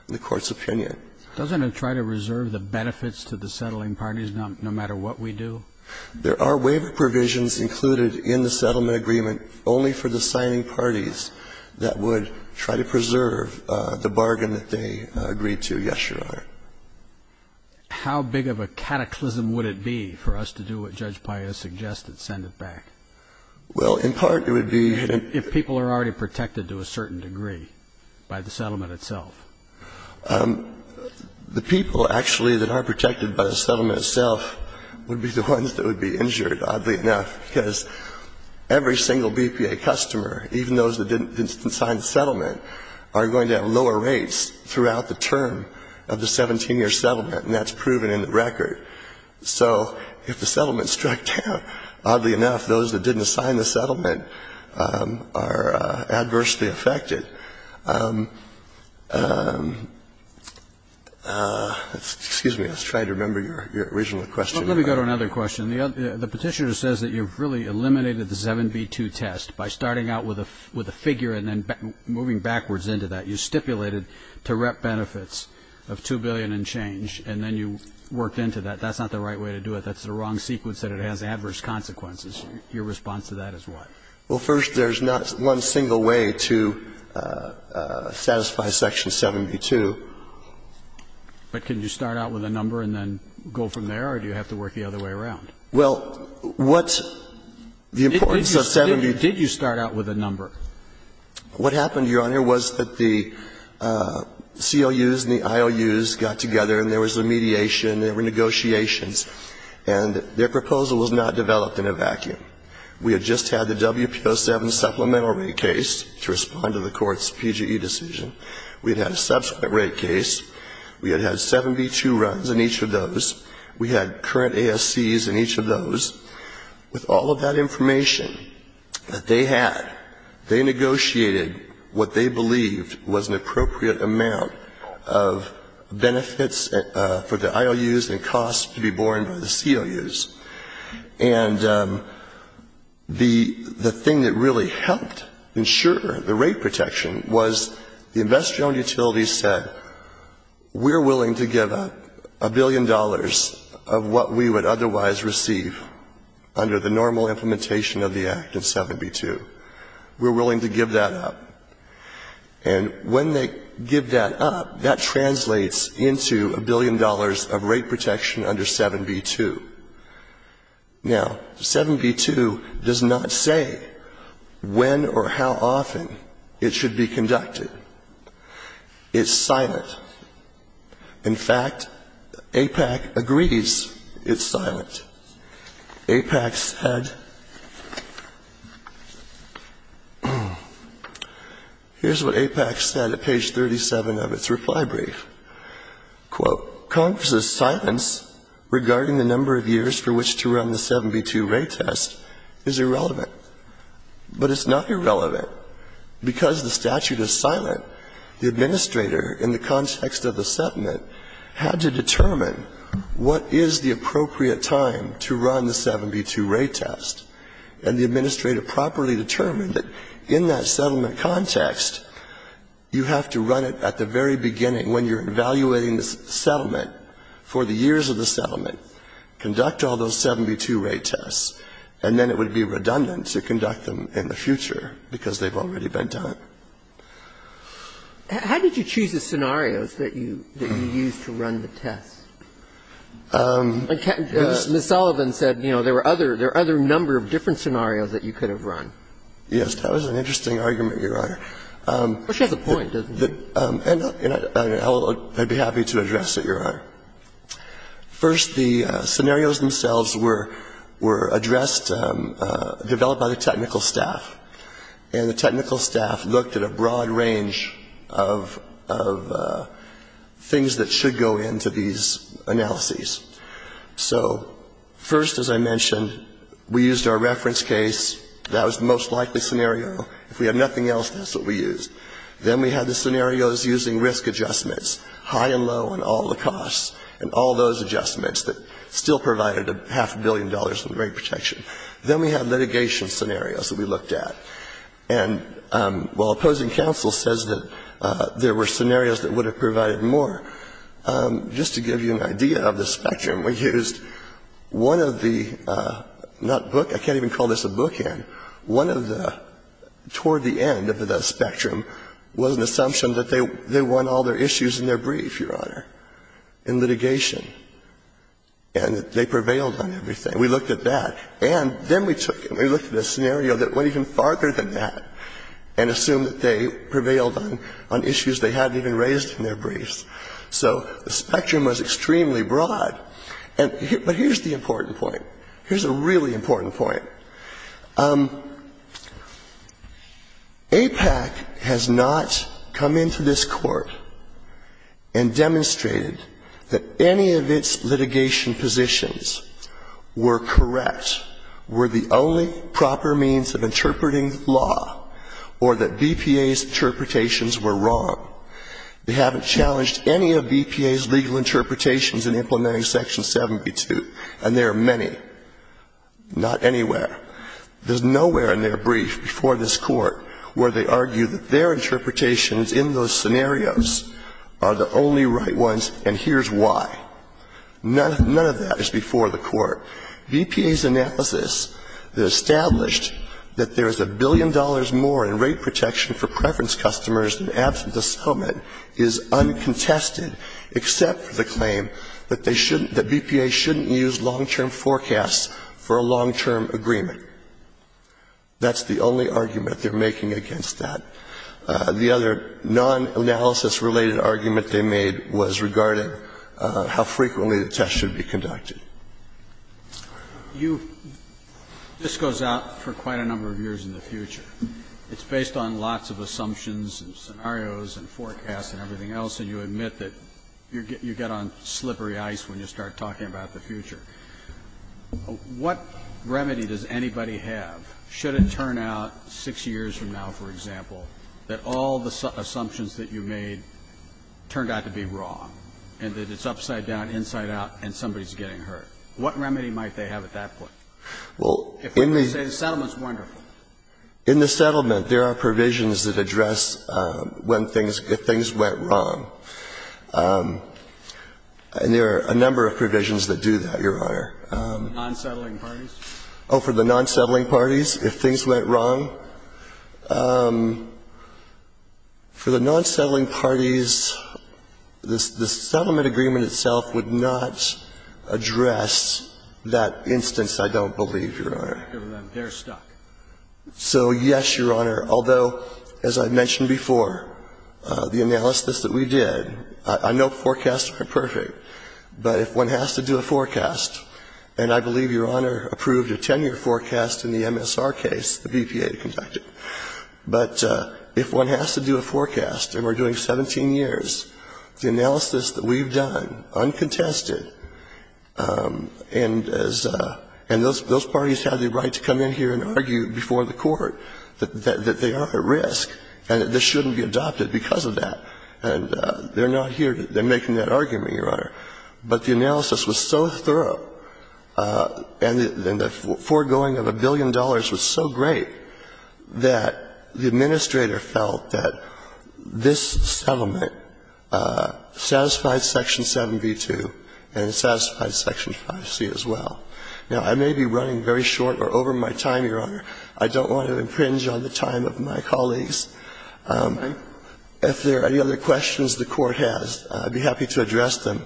the court's opinion. Doesn't it try to reserve the benefits to the settling parties no matter what we do? There are waiver provisions included in the settlement agreement only for the signing parties that would try to preserve the bargain that they agreed to, yes, Your Honor. How big of a cataclysm would it be for us to do what Judge Paius suggested, send it back? Well, in part it would be if people are already protected to a certain degree by the settlement itself. The people actually that are protected by the settlement itself would be the ones that would be injured, oddly enough, because every single BPA customer, even those that didn't sign the settlement, are going to have lower rates throughout the term of the 17-year settlement, and that's proven in the record. So if the settlement struck down, oddly enough, those that didn't sign the settlement are adversely affected. Excuse me. I was trying to remember your original question. Let me go to another question. The petitioner says that you've really eliminated the 7B2 test by starting out with a figure and then moving backwards into that. You stipulated direct benefits of $2 billion and change, and then you worked into that. That's not the right way to do it. That's the wrong sequence, and it has adverse consequences. Your response to that is what? Well, first, there's not one single way to satisfy Section 7B2. But can you start out with a number and then go from there, or do you have to work the other way around? Well, what's the importance of 7B2? Did you start out with a number? What happened, Your Honor, was that the COUs and the IOUs got together, and there was a mediation. There were negotiations, and their proposal was not developed in a vacuum. We had just had the WPO7 supplemental rate case to respond to the court's PGE decision. We had had a subsequent rate case. We had had 7B2 runs in each of those. We had current ASCs in each of those. With all of that information that they had, they negotiated what they believed was an appropriate amount of benefits for the IOUs and costs to be borne by the COUs. And the thing that really helped ensure the rate protection was the investment utilities said, we're willing to give up a billion dollars of what we would otherwise receive under the normal implementation of the Act of 7B2. We're willing to give that up. And when they give that up, that translates into a billion dollars of rate protection under 7B2. Now, 7B2 does not say when or how often it should be conducted. It's silent. In fact, APAC agrees it's silent. APAC said, here's what APAC said at page 37 of its reply brief. Quote, Congress's silence regarding the number of years for which to run the 7B2 rate test is irrelevant. But it's not irrelevant because the statute is silent. The administrator, in the context of the settlement, had to determine what is the appropriate time to run the 7B2 rate test. And the administrator properly determined that in that settlement context, you have to run it at the very beginning when you're evaluating the settlement for the years of the settlement. Conduct all those 7B2 rate tests. And then it would be redundant to conduct them in the future because they've already been done. How did you choose the scenarios that you used to run the test? Ms. Sullivan said, you know, there are other number of different scenarios that you could have run. Yes, that was an interesting argument, Your Honor. Which has a point, doesn't it? I'd be happy to address it, Your Honor. First, the scenarios themselves were addressed, developed by the technical staff. And the technical staff looked at a broad range of things that should go into these analyses. So first, as I mentioned, we used our reference case. That was the most likely scenario. If we had nothing else, that's what we used. Then we had the scenarios using risk adjustments, high and low on all the costs, and all those adjustments that still provided a half a billion dollars in rate protection. Then we had litigation scenarios that we looked at. And while opposing counsel says that there were scenarios that would have provided more, just to give you an idea of the spectrum, we used one of the, not book, I can't even call this a bookend, one of the, toward the end of the spectrum was an assumption that they won all their issues in their brief, Your Honor. In litigation. And they prevailed on everything. We looked at that. And then we looked at a scenario that went even farther than that and assumed that they prevailed on issues they hadn't even raised in their briefs. So the spectrum was extremely broad. But here's the important point. Here's a really important point. APAC has not come into this court and demonstrated that any of its litigation positions were correct, were the only proper means of interpreting law, or that BPA's interpretations were wrong. They haven't challenged any of BPA's legal interpretations in implementing Section 72. And there are many. Not anywhere. There's nowhere in their brief before this court where they argue that their interpretations in those scenarios are the only right ones, and here's why. None of that is before the court. BPA's analysis that established that there is a billion dollars more in rate protection for preference customers after the summit is uncontested except for the claim that BPA shouldn't use long-term forecasts for a long-term agreement. That's the only argument they're making against that. The other non-analysis-related argument they made was regarding how frequently the test should be conducted. This goes out for quite a number of years in the future. It's based on lots of assumptions and scenarios and forecasts and everything else, and you admit that you get on slippery ice when you start talking about the future. What remedy does anybody have? Should it turn out six years from now, for example, that all the assumptions that you made turned out to be wrong, and that it's upside down, inside out, and somebody's getting hurt? What remedy might they have at that point? They say the settlement's wonderful. In the settlement, there are provisions that address if things went wrong, and there are a number of provisions that do that, Your Honor. For the non-settling parties? Oh, for the non-settling parties, if things went wrong? For the non-settling parties, the settlement agreement itself would not address that instance, I don't believe, Your Honor. They're stuck. So, yes, Your Honor, although, as I mentioned before, the analysis that we did, I know forecasts are perfect, but if one has to do a forecast, and I believe Your Honor approved a 10-year forecast in the MSR case the BPA conducted, but if one has to do a forecast, and we're doing 17 years, the analysis that we've done, uncontested, and those parties have the right to come in here and argue before the court that they are at risk and that this shouldn't be adopted because of that, and they're not here. They're making that argument, Your Honor. But the analysis was so thorough and the foregoing of a billion dollars was so great that the administrator felt that this settlement satisfied Section 7b-2 and satisfied Section 5c as well. Now, I may be running very short or over my time, Your Honor. I don't want to impringe on the time of my colleagues. If there are any other questions the Court has, I'd be happy to address them.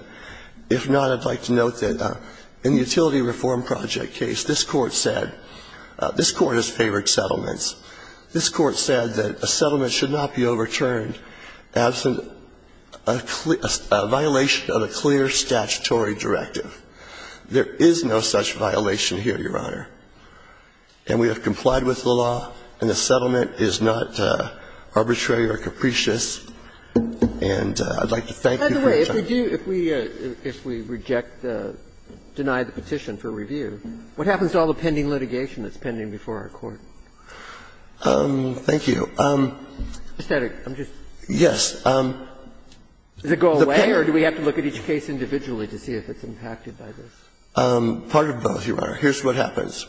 If not, I'd like to note that in the Utility Reform Project case, this Court has favored settlements. This Court said that a settlement should not be overturned as a violation of a clear statutory directive. There is no such violation here, Your Honor, and we have complied with the law, and the settlement is not arbitrary or capricious, and I'd like to thank you for your time. By the way, if we reject, deny the petition for review, what happens to all the pending litigation that's pending before our Court? Thank you. Is that a... Yes. Does it go away, or do we have to look at each case individually to see if it's impacted by this? Part of both, Your Honor. Here's what happens.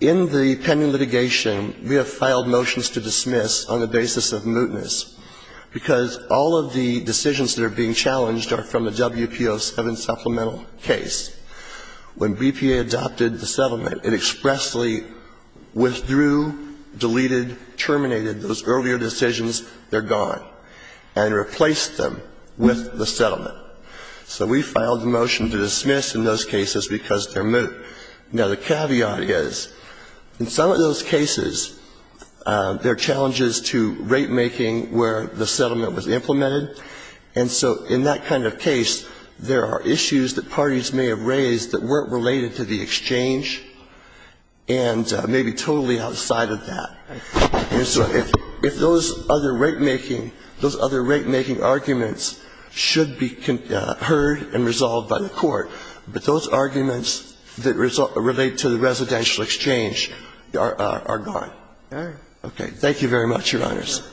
In the pending litigation, we have filed motions to dismiss on the basis of mootness because all of the decisions that are being challenged are from a WPO7 supplemental case. When BPA adopted the settlement, it expressly withdrew, deleted, terminated those earlier decisions. They're gone, and replaced them with the settlement. So we filed a motion to dismiss in those cases because they're moot. Now, the caveat is, in some of those cases, there are challenges to rate-making where the settlement was implemented, and so in that kind of case, there are issues that parties may have raised that weren't related to the exchange and may be totally outside of that. And so if those other rate-making arguments should be heard and resolved by the Court, but those arguments that relate to the residential exchange are gone. Okay. Thank you very much, Your Honors.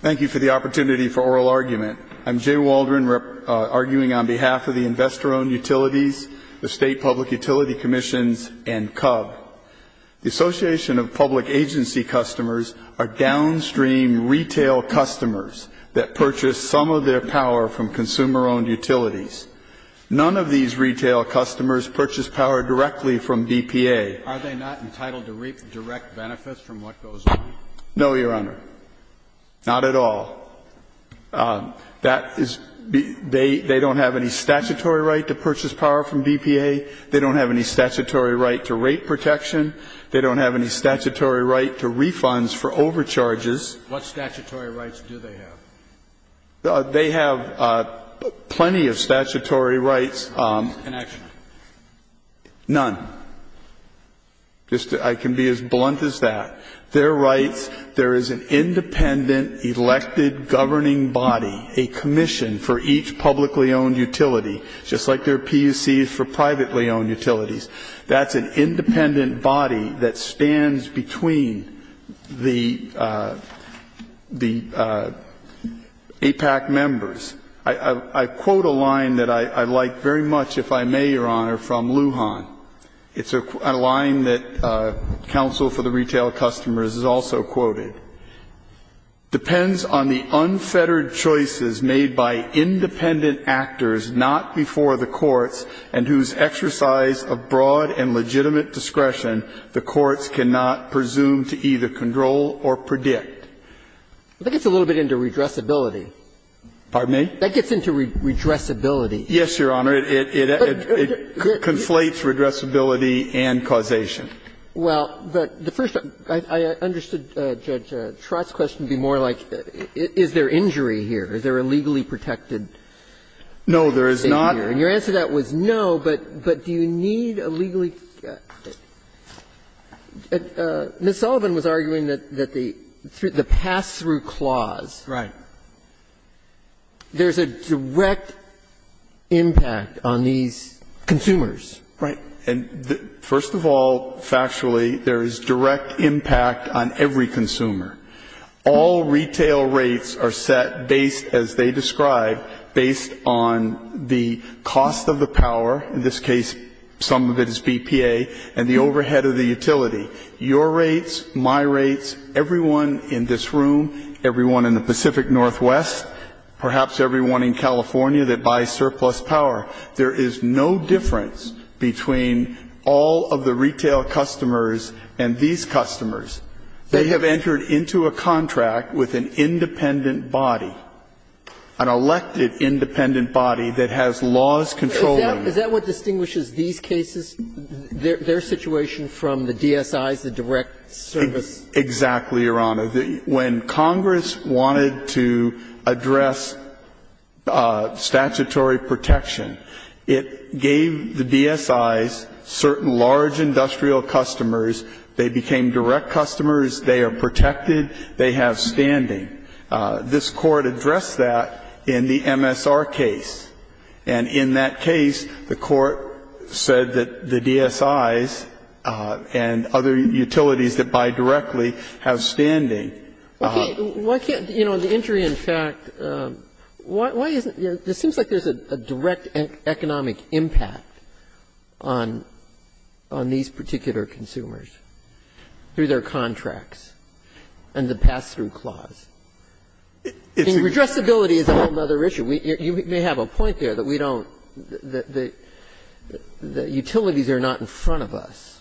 Thank you for the opportunity for oral argument. I'm Jay Waldron, arguing on behalf of the Investor-Owned Utilities, the State Public Utility Commission, and CUB. The Association of Public Agency Customers are downstream retail customers that purchase some of their power from consumer-owned utilities. None of these retail customers purchase power directly from BPA. Are they not entitled to reap direct benefits from what goes on? No, Your Honor. Not at all. They don't have any statutory right to purchase power from BPA. They don't have any statutory right to rate protection. They don't have any statutory right to refunds for overcharges. What statutory rights do they have? They have plenty of statutory rights. And actually? None. I can be as blunt as that. They're right. There is an independent elected governing body, a commission for each publicly-owned utility, just like there are PUCs for privately-owned utilities. That's an independent body that stands between the APAC members. I quote a line that I like very much, if I may, Your Honor, from Lujan. It's a line that Council for the Retail Customers has also quoted. Depends on the unfettered choices made by independent actors not before the courts and whose exercise of broad and legitimate discretion the courts cannot presume to either control or predict. That gets a little bit into redressability. Pardon me? That gets into redressability. Yes, Your Honor. It conflates redressability and causation. Well, but the first thing, I understood, Judge, Trott's question would be more like is there injury here? Is there a legally protected issue here? No, there is not. Your answer to that was no, but do you need a legally ---- Ms. Sullivan was arguing that the pass-through clause, there's a direct impact on these consumers. Right. First of all, factually, there is direct impact on every consumer. All retail rates are set based, as they describe, based on the cost of the power, in this case some of it is BPA, and the overhead of the utility. Your rates, my rates, everyone in this room, everyone in the Pacific Northwest, perhaps everyone in California that buys surplus power, there is no difference between all of the retail customers and these customers. They have entered into a contract with an independent body, an elected independent body that has laws controlling it. Is that what distinguishes these cases, their situation from the DSIs, the direct service? Exactly, Your Honor. When Congress wanted to address statutory protection, it gave the DSIs certain large industrial customers. They became direct customers. They are protected. They have standing. This court addressed that in the MSR case, and in that case, the court said that the DSIs and other utilities that buy directly have standing. Okay. Why can't, you know, the injury in fact, why isn't, you know, it seems like there's a direct economic impact on these particular consumers through their contracts and the pass-through clause. The addressability is another issue. You may have a point there that we don't, that utilities are not in front of us.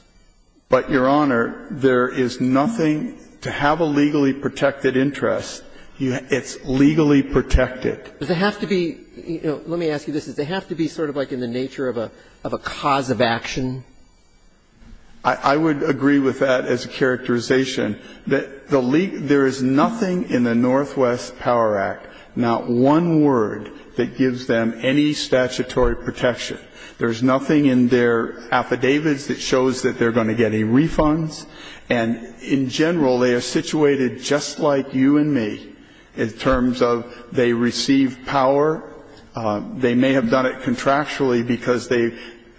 But, Your Honor, there is nothing to have a legally protected interest. It's legally protected. Does it have to be, you know, let me ask you this. Does it have to be sort of like in the nature of a cause of action? I would agree with that as a characterization. There is nothing in the Northwest Power Act, not one word, that gives them any statutory protection. There's nothing in their affidavits that shows that they're going to get a refund. And in general, they are situated just like you and me in terms of they receive power. They may have done it contractually because they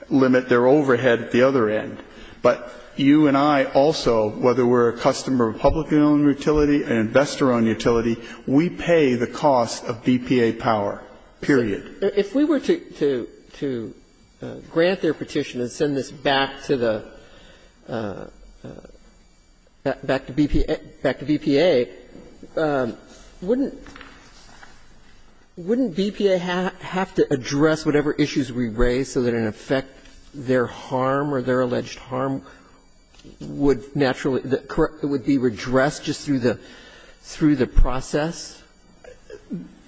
limit their overhead at the other end. But you and I also, whether we're a customer of publicly-owned utility, an investor-owned utility, we pay the cost of BPA power, period. If we were to grant their petition and send this back to the, back to BPA, wouldn't BPA have to address whatever issues we raise so that, in effect, their harm or their alleged harm would naturally, would be redressed just through the process?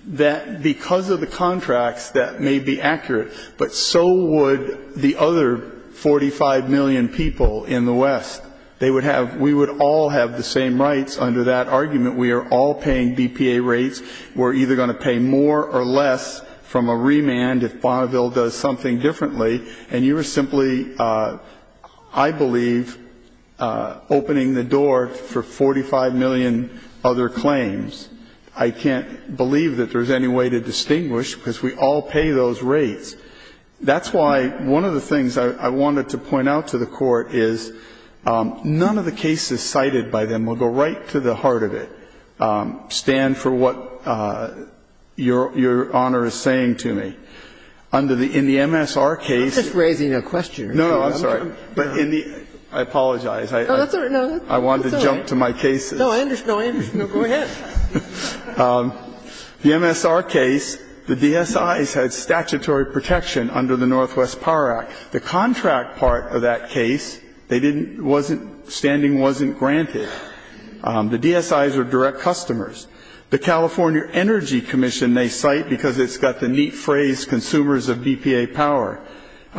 That because of the contracts, that may be accurate, but so would the other 45 million people in the West. They would have, we would all have the same rights under that argument. We are all paying BPA rates. We're either going to pay more or less from a remand if Bonneville does something differently. And you are simply, I believe, opening the door for 45 million other claims. I can't believe that there's any way to distinguish because we all pay those rates. That's why one of the things I wanted to point out to the Court is none of the cases cited by them will go right to the heart of it. Stand for what your Honor is saying to me. Under the, in the MSR case- I'm just raising a question. No, no, I'm sorry. But in the, I apologize. Arthur, no. I wanted to jump to my cases. No, I understand. Go ahead. The MSR case, the DSIs had statutory protection under the Northwest Power Act. The contract part of that case, they didn't, wasn't, standing wasn't granted. The DSIs are direct customers. The California Energy Commission they cite because it's got the neat phrase consumers of BPA power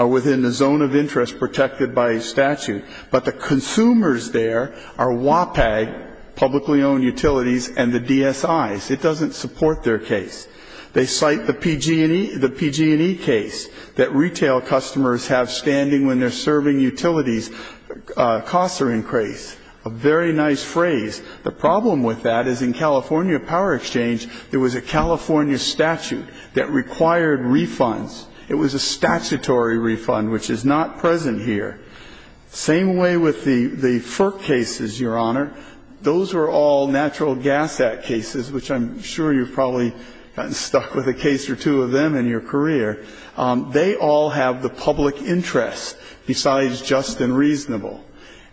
within the zone of interest protected by statute. But the consumers there are WPAG, publicly owned utilities, and the DSIs. It doesn't support their case. They cite the PG&E case that retail customers have standing when they're serving utilities. Costs are increased. A very nice phrase. The problem with that is in California Power Exchange, there was a California statute that required refunds. It was a statutory refund, which is not present here. Same way with the FERC cases, Your Honor. Those were all Natural Gas Act cases, which I'm sure you've probably gotten stuck with a case or two of them in your career. They all have the public interest besides just and reasonable.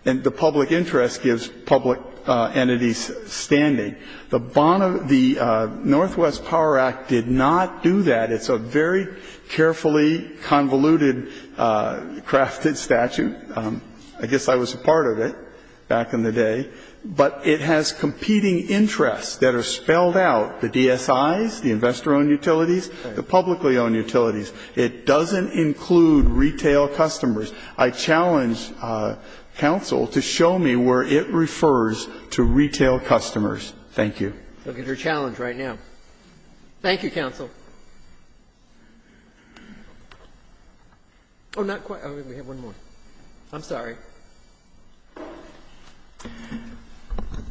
And the public interest gives public entities standing. The Bona, the Northwest Power Act did not do that. It's a very carefully convoluted crafted statute. I guess I was a part of it back in the day. But it has competing interests that are spelled out, the DSIs, the investor-owned utilities, the publicly-owned utilities. It doesn't include retail customers. I challenge counsel to show me where it refers to retail customers. Thank you. Look at your challenge right now. Thank you, counsel. Oh, not quite. We have one more. I'm sorry.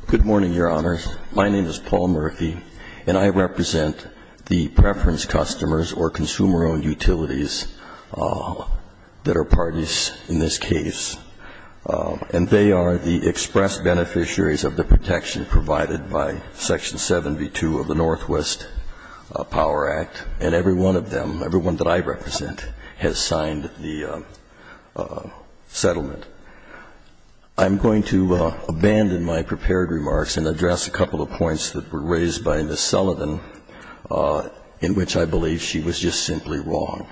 Good morning, Your Honors. My name is Paul Murphy, and I represent the preference customers or consumer-owned utilities that are parties in this case. And they are the express beneficiaries of the protection provided by Section 72 of the Northwest Power Act. And every one of them, everyone that I represent, has signed the settlement. I'm going to abandon my prepared remarks and address a couple of points that were raised by Ms. Sullivan, in which I believe she was just simply wrong.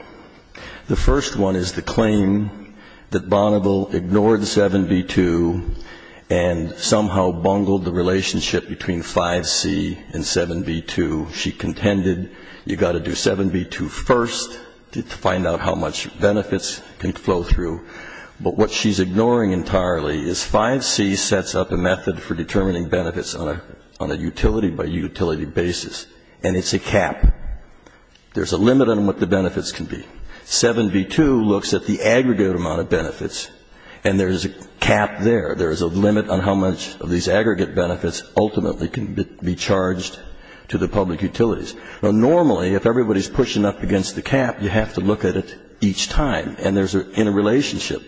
The first one is the claim that Bonneville ignored 7b-2 and somehow bungled the relationship between 5c and 7b-2. She contended you've got to do 7b-2 first to find out how much benefits can flow through. But what she's ignoring entirely is 5c sets up a method for determining benefits on a utility-by-utility basis, and it's a cap. There's a limit on what the benefits can be. 7b-2 looks at the aggregate amount of benefits, and there's a cap there. There's a limit on how much of these aggregate benefits ultimately can be charged to the public utilities. Now, normally, if everybody's pushing up against the cap, you have to look at it each time, and there's an interrelationship.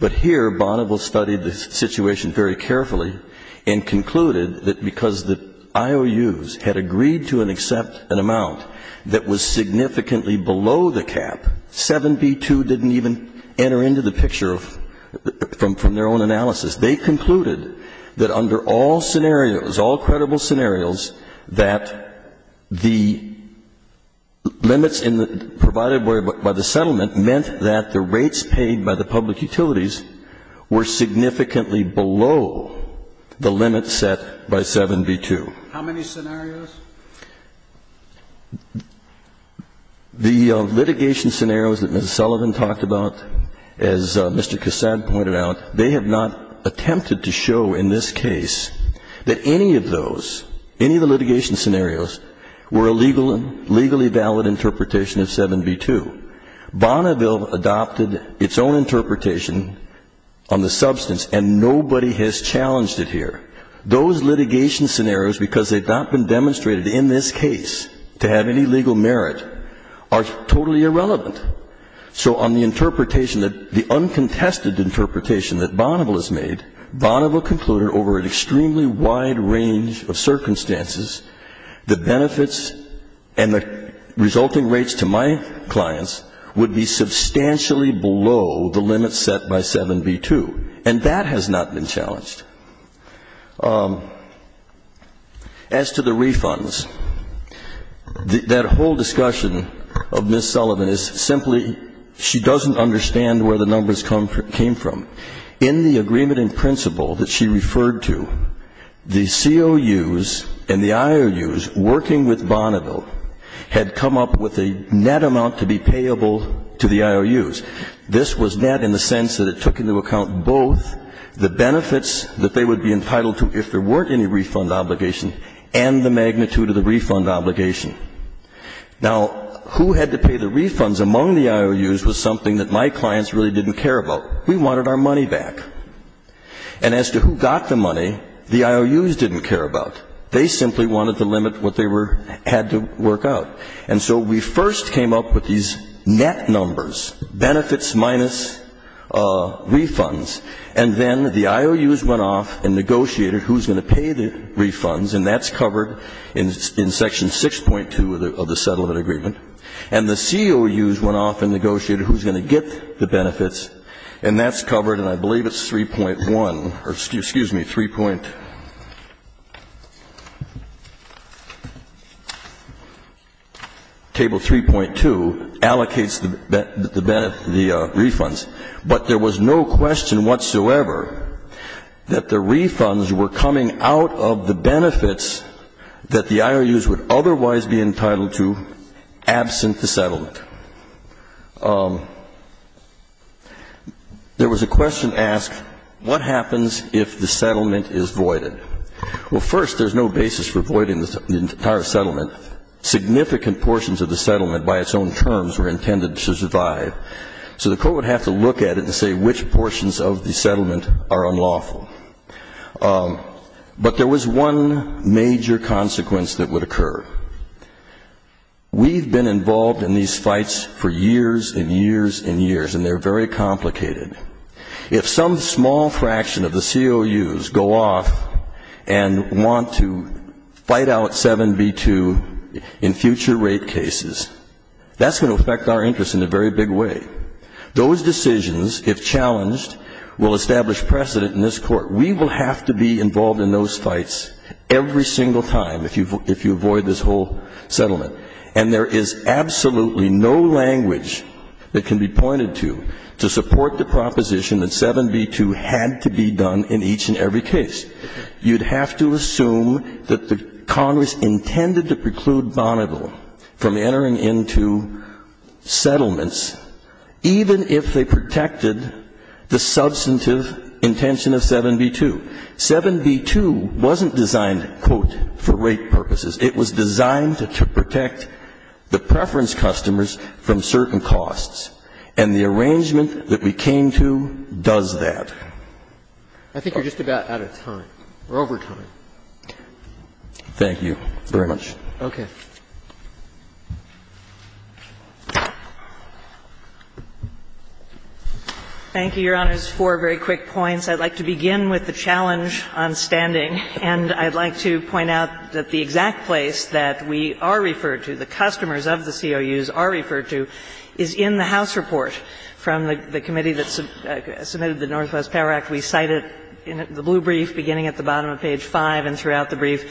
But here, Bonneville studied the situation very carefully and concluded that because the IOUs had agreed to accept an amount that was significantly below the cap, 7b-2 didn't even enter into the picture from their own analysis. They concluded that under all scenarios, all credible scenarios, that the limits provided by the settlement meant that the rates paid by the public utilities were significantly below the limit set by 7b-2. How many scenarios? The litigation scenarios that Ms. Sullivan talked about, as Mr. Cassad pointed out, they have not attempted to show in this case that any of those, any of the litigation scenarios, were a legally valid interpretation of 7b-2. Bonneville adopted its own interpretation on the substance, and nobody has challenged it here. Those litigation scenarios, because they've not been demonstrated in this case to have any legal merit, are totally irrelevant. So on the interpretation, the uncontested interpretation that Bonneville has made, Bonneville concluded over an extremely wide range of circumstances, the benefits and the resulting rates to my clients would be substantially below the limit set by 7b-2. And that has not been challenged. As to the refunds, that whole discussion of Ms. Sullivan is simply she doesn't understand where the numbers came from. In the agreement in principle that she referred to, the COUs and the IOUs working with Bonneville had come up with a net amount to be payable to the IOUs. This was net in the sense that it took into account both the benefits that they would be entitled to if there weren't any refund obligation and the magnitude of the refund obligation. Now, who had to pay the refunds among the IOUs was something that my clients really didn't care about. We wanted our money back. And as to who got the money, the IOUs didn't care about. They simply wanted to limit what they had to work out. And so we first came up with these net numbers, benefits minus refunds. And then the IOUs went off and negotiated who's going to pay the refunds. And that's covered in Section 6.2 of the settlement agreement. And the COUs went off and negotiated who's going to get the benefits. And that's covered, and I believe it's 3.1, or excuse me, 3.2, allocates the refunds. But there was no question whatsoever that the refunds were coming out of the benefits that the IOUs would otherwise be entitled to absent the settlement. There was a question asked, what happens if the settlement is voided? Well, first, there's no basis for voiding the entire settlement. Significant portions of the settlement, by its own terms, were intended to survive. So the court would have to look at it to say which portions of the settlement are unlawful. But there was one major consequence that would occur. We've been involved in these fights for years and years and years, and they're very complicated. If some small fraction of the COUs go off and want to fight out 7b-2 in future rape cases, that's going to affect our interest in a very big way. Those decisions, if challenged, will establish precedent in this court. We will have to be involved in those fights every single time if you avoid this whole settlement. And there is absolutely no language that can be pointed to to support the proposition that 7b-2 had to be done in each and every case. You'd have to assume that the Congress intended to preclude Bonneville from entering into settlements, even if they protected the substantive intention of 7b-2. 7b-2 wasn't designed, quote, for rape purposes. It was designed to protect the preference customers from certain costs. And the arrangement that we came to does that. I think we're just about out of time. We're over time. Thank you very much. Okay. Thank you, Your Honors. Four very quick points. I'd like to begin with the challenge on spending. And I'd like to point out that the exact place that we are referred to, the customers of the COUs are referred to, is in the House report from the committee that submitted the Northwest Power Act. We cite it in the blue brief beginning at the bottom of page 5 and throughout the brief.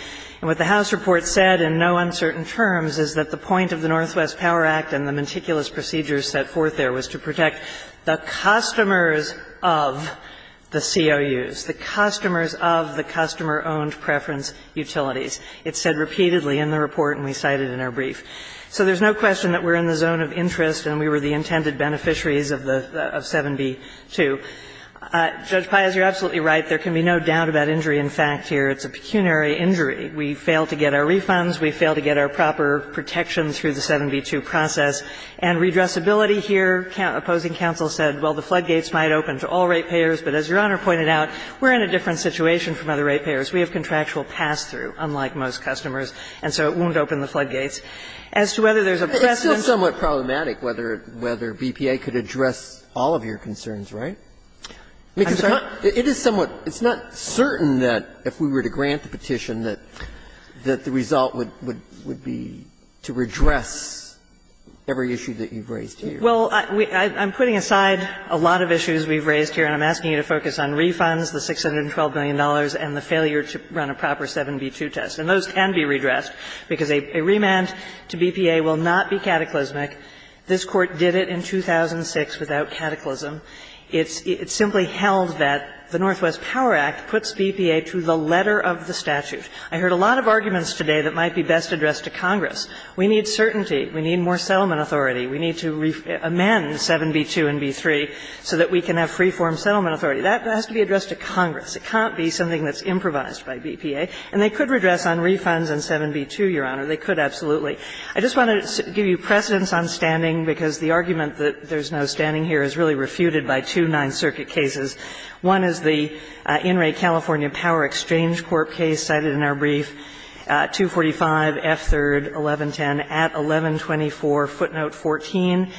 And what the House report said in no uncertain terms is that the point of the Northwest Power Act and the meticulous procedures set forth there was to protect the customers of the COUs, the customers of the customer-owned preference utilities. It's said repeatedly in the report and we cite it in our brief. So there's no question that we're in the zone of interest and we were the intended beneficiaries of 7B-2. Judge Pais, you're absolutely right. There can be no doubt about injury in fact here. It's a pecuniary injury. We failed to get our refunds. We failed to get our proper protection through the 7B-2 process. And redressability here, opposing counsel said, well, the floodgates might open to all rate payers. But as Your Honor pointed out, we're in a different situation from other rate payers. We have contractual pass-through, unlike most customers, and so it won't open the floodgates. As to whether there's a precedent. It's somewhat problematic whether BPA could address all of your concerns, right? I'm sorry? It is somewhat. It's not certain that if we were to grant the petition that the result would be to redress every issue that you've raised here. Well, I'm putting aside a lot of issues we've raised here and I'm asking you to focus on refunds, the $612 billion, and the failure to run a proper 7B-2 test. And those can be redressed because a remand to BPA will not be cataclysmic. This Court did it in 2006 without cataclysm. It simply held that the Northwest Power Act puts BPA through the letter of the statute. I heard a lot of arguments today that might be best addressed to Congress. We need certainty. We need more settlement authority. We need to amend 7B-2 and B-3 so that we can have preformed settlement authority. That has to be addressed to Congress. It can't be something that's improvised by BPA. And they could redress on refunds in 7B-2, Your Honor. They could, absolutely. I just want to give you precedence on standing because the argument that there's no standing here is really refuted by two non-circuit cases. One is the In-Rate California Power Exchange Court case cited in our brief, 245S3-1110 at 1124 footnote 14.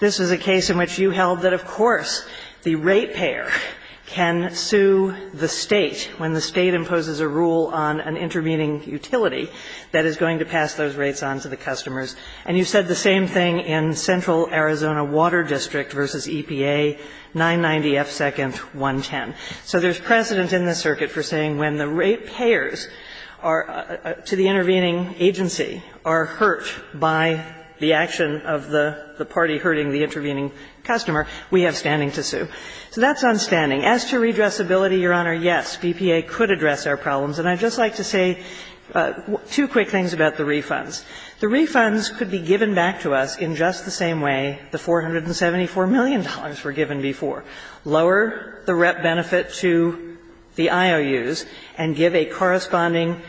This is a case in which you held that, of course, the rate payer can sue the state when the state imposes a rule on an intervening utility that is going to pass those rates on to the customers. And you said the same thing in Central Arizona Water District versus EPA, 990S2-110. So there's precedence in the circuit for saying when the rate payers to the intervening agency are hurt by the action of the party hurting the intervening customer, we have standing to sue. So that's on standing. As to redressability, Your Honor, yes, BPA could address our problems. And I'd just like to say two quick things about the refunds. The refunds could be given back to us in just the same way the $474 million were given before. Lower the rep benefit to the IOUs and give a corresponding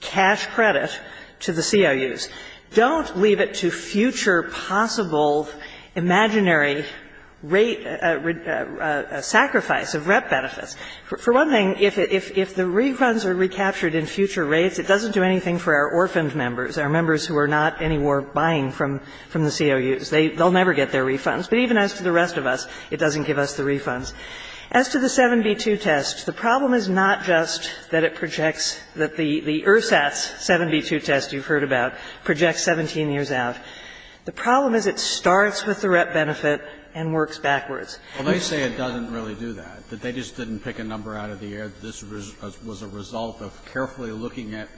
cash credit to the CIUs. Don't leave it to future possible imaginary rate sacrifice of rep benefits. For one thing, if the refunds are recaptured in future rates, it doesn't do anything for our orphaned members, our members who are not any more buying from the CIUs. They'll never get their refunds. But even as to the rest of us, it doesn't give us the refunds. As to the 72 test, the problem is not just that it projects that the ERSTAT 72 test you've heard about projects 17 years out. The problem is it starts with the rep benefit and works backwards. Well, they say it doesn't really do that, that they just didn't pick a number out of the air, that this was a result of carefully looking at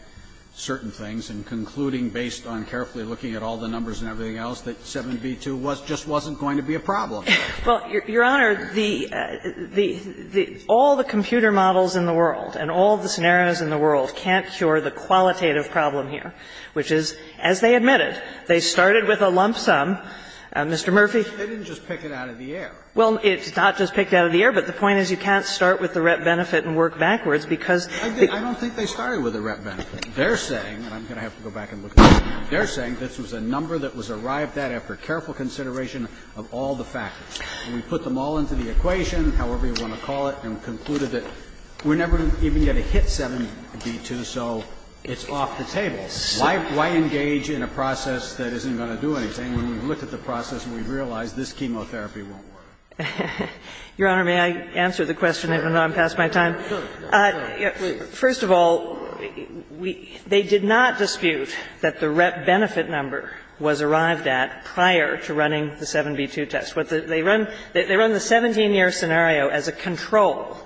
certain things and concluding based on carefully looking at all the numbers and everything else that 72 just wasn't going to be a problem. Well, Your Honor, all the computer models in the world and all the scenarios in the world can't cure the qualitative problem here, which is, as they admitted, they started with a lump sum. Mr. Murphy? They didn't just pick it out of the air. Well, it's not just picked out of the air, but the point is you can't start with the rep benefit and work backwards because it's... I don't think they started with the rep benefit. They're saying, and I'm going to have to go back and look at this again, they're saying this was a number that was arrived at after careful consideration of all the factors. And we put them all into the equation, however you want to call it, and concluded that we're never even going to hit 72, so it's off the table. Why engage in a process that isn't going to do anything when we've looked at the process and we've realized this chemotherapy won't work? Your Honor, may I answer the question even though I'm past my time? Go ahead. First of all, they did not dispute that the rep benefit number was arrived at prior to running the 72 test. They run the 17-year scenario as a control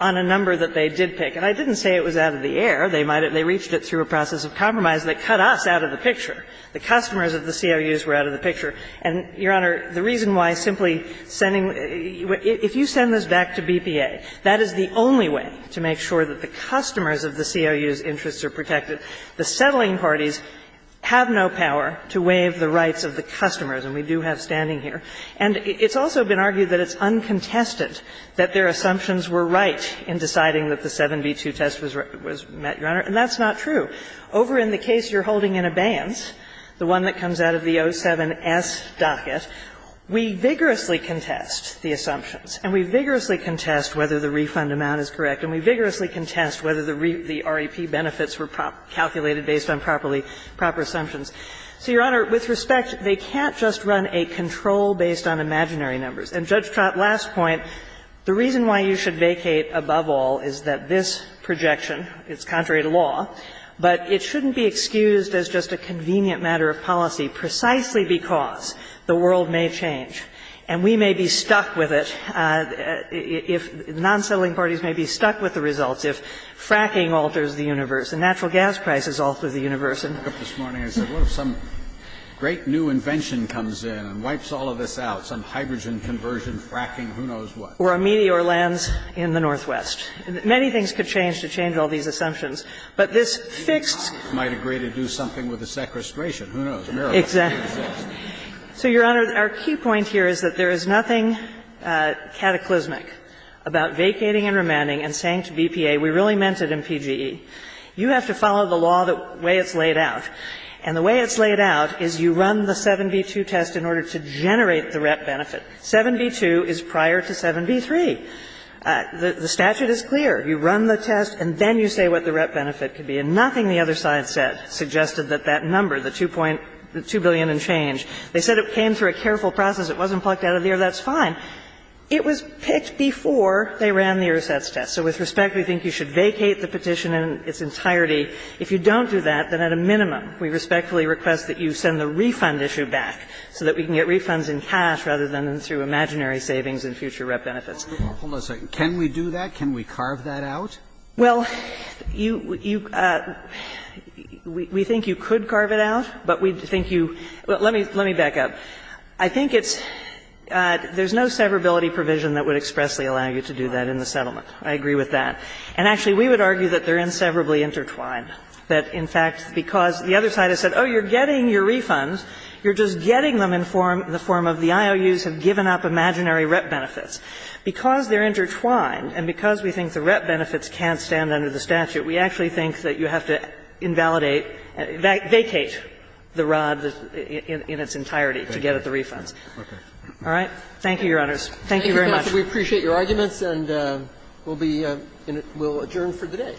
on a number that they did pick. And I didn't say it was out of the air. They might have reached it through a process of compromise, but it cut us out of the picture. The customers of the COUs were out of the picture. And, Your Honor, the reason why simply sending – if you send this back to BPA, that is the only way to make sure that the customers of the COUs' interests are protected. The settling parties have no power to waive the rights of the customers, and we do have standing here. And it's also been argued that it's uncontested that their assumptions were right in deciding that the 7B2 test was met, Your Honor. And that's not true. Over in the case you're holding in abeyance, the one that comes out of the 07S docket, we vigorously contest the assumptions and we vigorously contest whether the refund amount is correct and we vigorously contest whether the REP benefits were calculated based on properly – proper assumptions. So, Your Honor, with respect, they can't just run a control based on imaginary numbers. And Judge Trott, last point, the reason why you should vacate above all is that this projection is contrary to law, but it shouldn't be excused as just a convenient matter of policy precisely because the world may change. And we may be stuck with it if – non-settling parties may be stuck with the results if fracking alters the universe and natural gas prices alter the universe. I was in America this morning. I said, look, some great new invention comes in and wipes all of this out, some hydrogen conversion, fracking, who knows what. Or a meteor lands in the Northwest. Many things could change to change all these assumptions. But this fixed – Might agree to do something with the sequestration. Who knows? America. Exactly. So, Your Honor, our key point here is that there is nothing cataclysmic about vacating and remanding and saying to BPA, we really meant it in PGE. You have to follow the law the way it's laid out. And the way it's laid out is you run the 7B2 test in order to generate the RET benefit. 7B2 is prior to 7B3. The statute is clear. You run the test and then you say what the RET benefit could be. And nothing the other side said suggested that that number, the 2 billion and change, they said it came through a careful process. It wasn't plucked out of the air. That's fine. It was picked before they ran the IRSAS test. So, with respect, we think you should vacate the petition in its entirety. If you don't do that, then at a minimum, we respectfully request that you send the refund issue back so that we can get refunds in cash rather than through imaginary savings and future RET benefits. Hold on a second. Can we do that? Can we carve that out? Well, you – we think you could carve it out, but we think you – well, let me back up. I think it's – there's no severability provision that would expressly allow you to do that in the settlement. I agree with that. And, actually, we would argue that they're inseverably intertwined. That, in fact, because the other side has said, oh, you're getting your refunds, you're just getting them in the form of the IOUs have given up imaginary RET benefits. Because they're intertwined and because we think the RET benefits can't stand under the statute, we actually think that you have to invalidate – vacate the rod in its entirety to get at the refund. Okay. All right? Thank you, Your Honors. Thank you very much. We appreciate your arguments, and we'll be – we'll adjourn for today.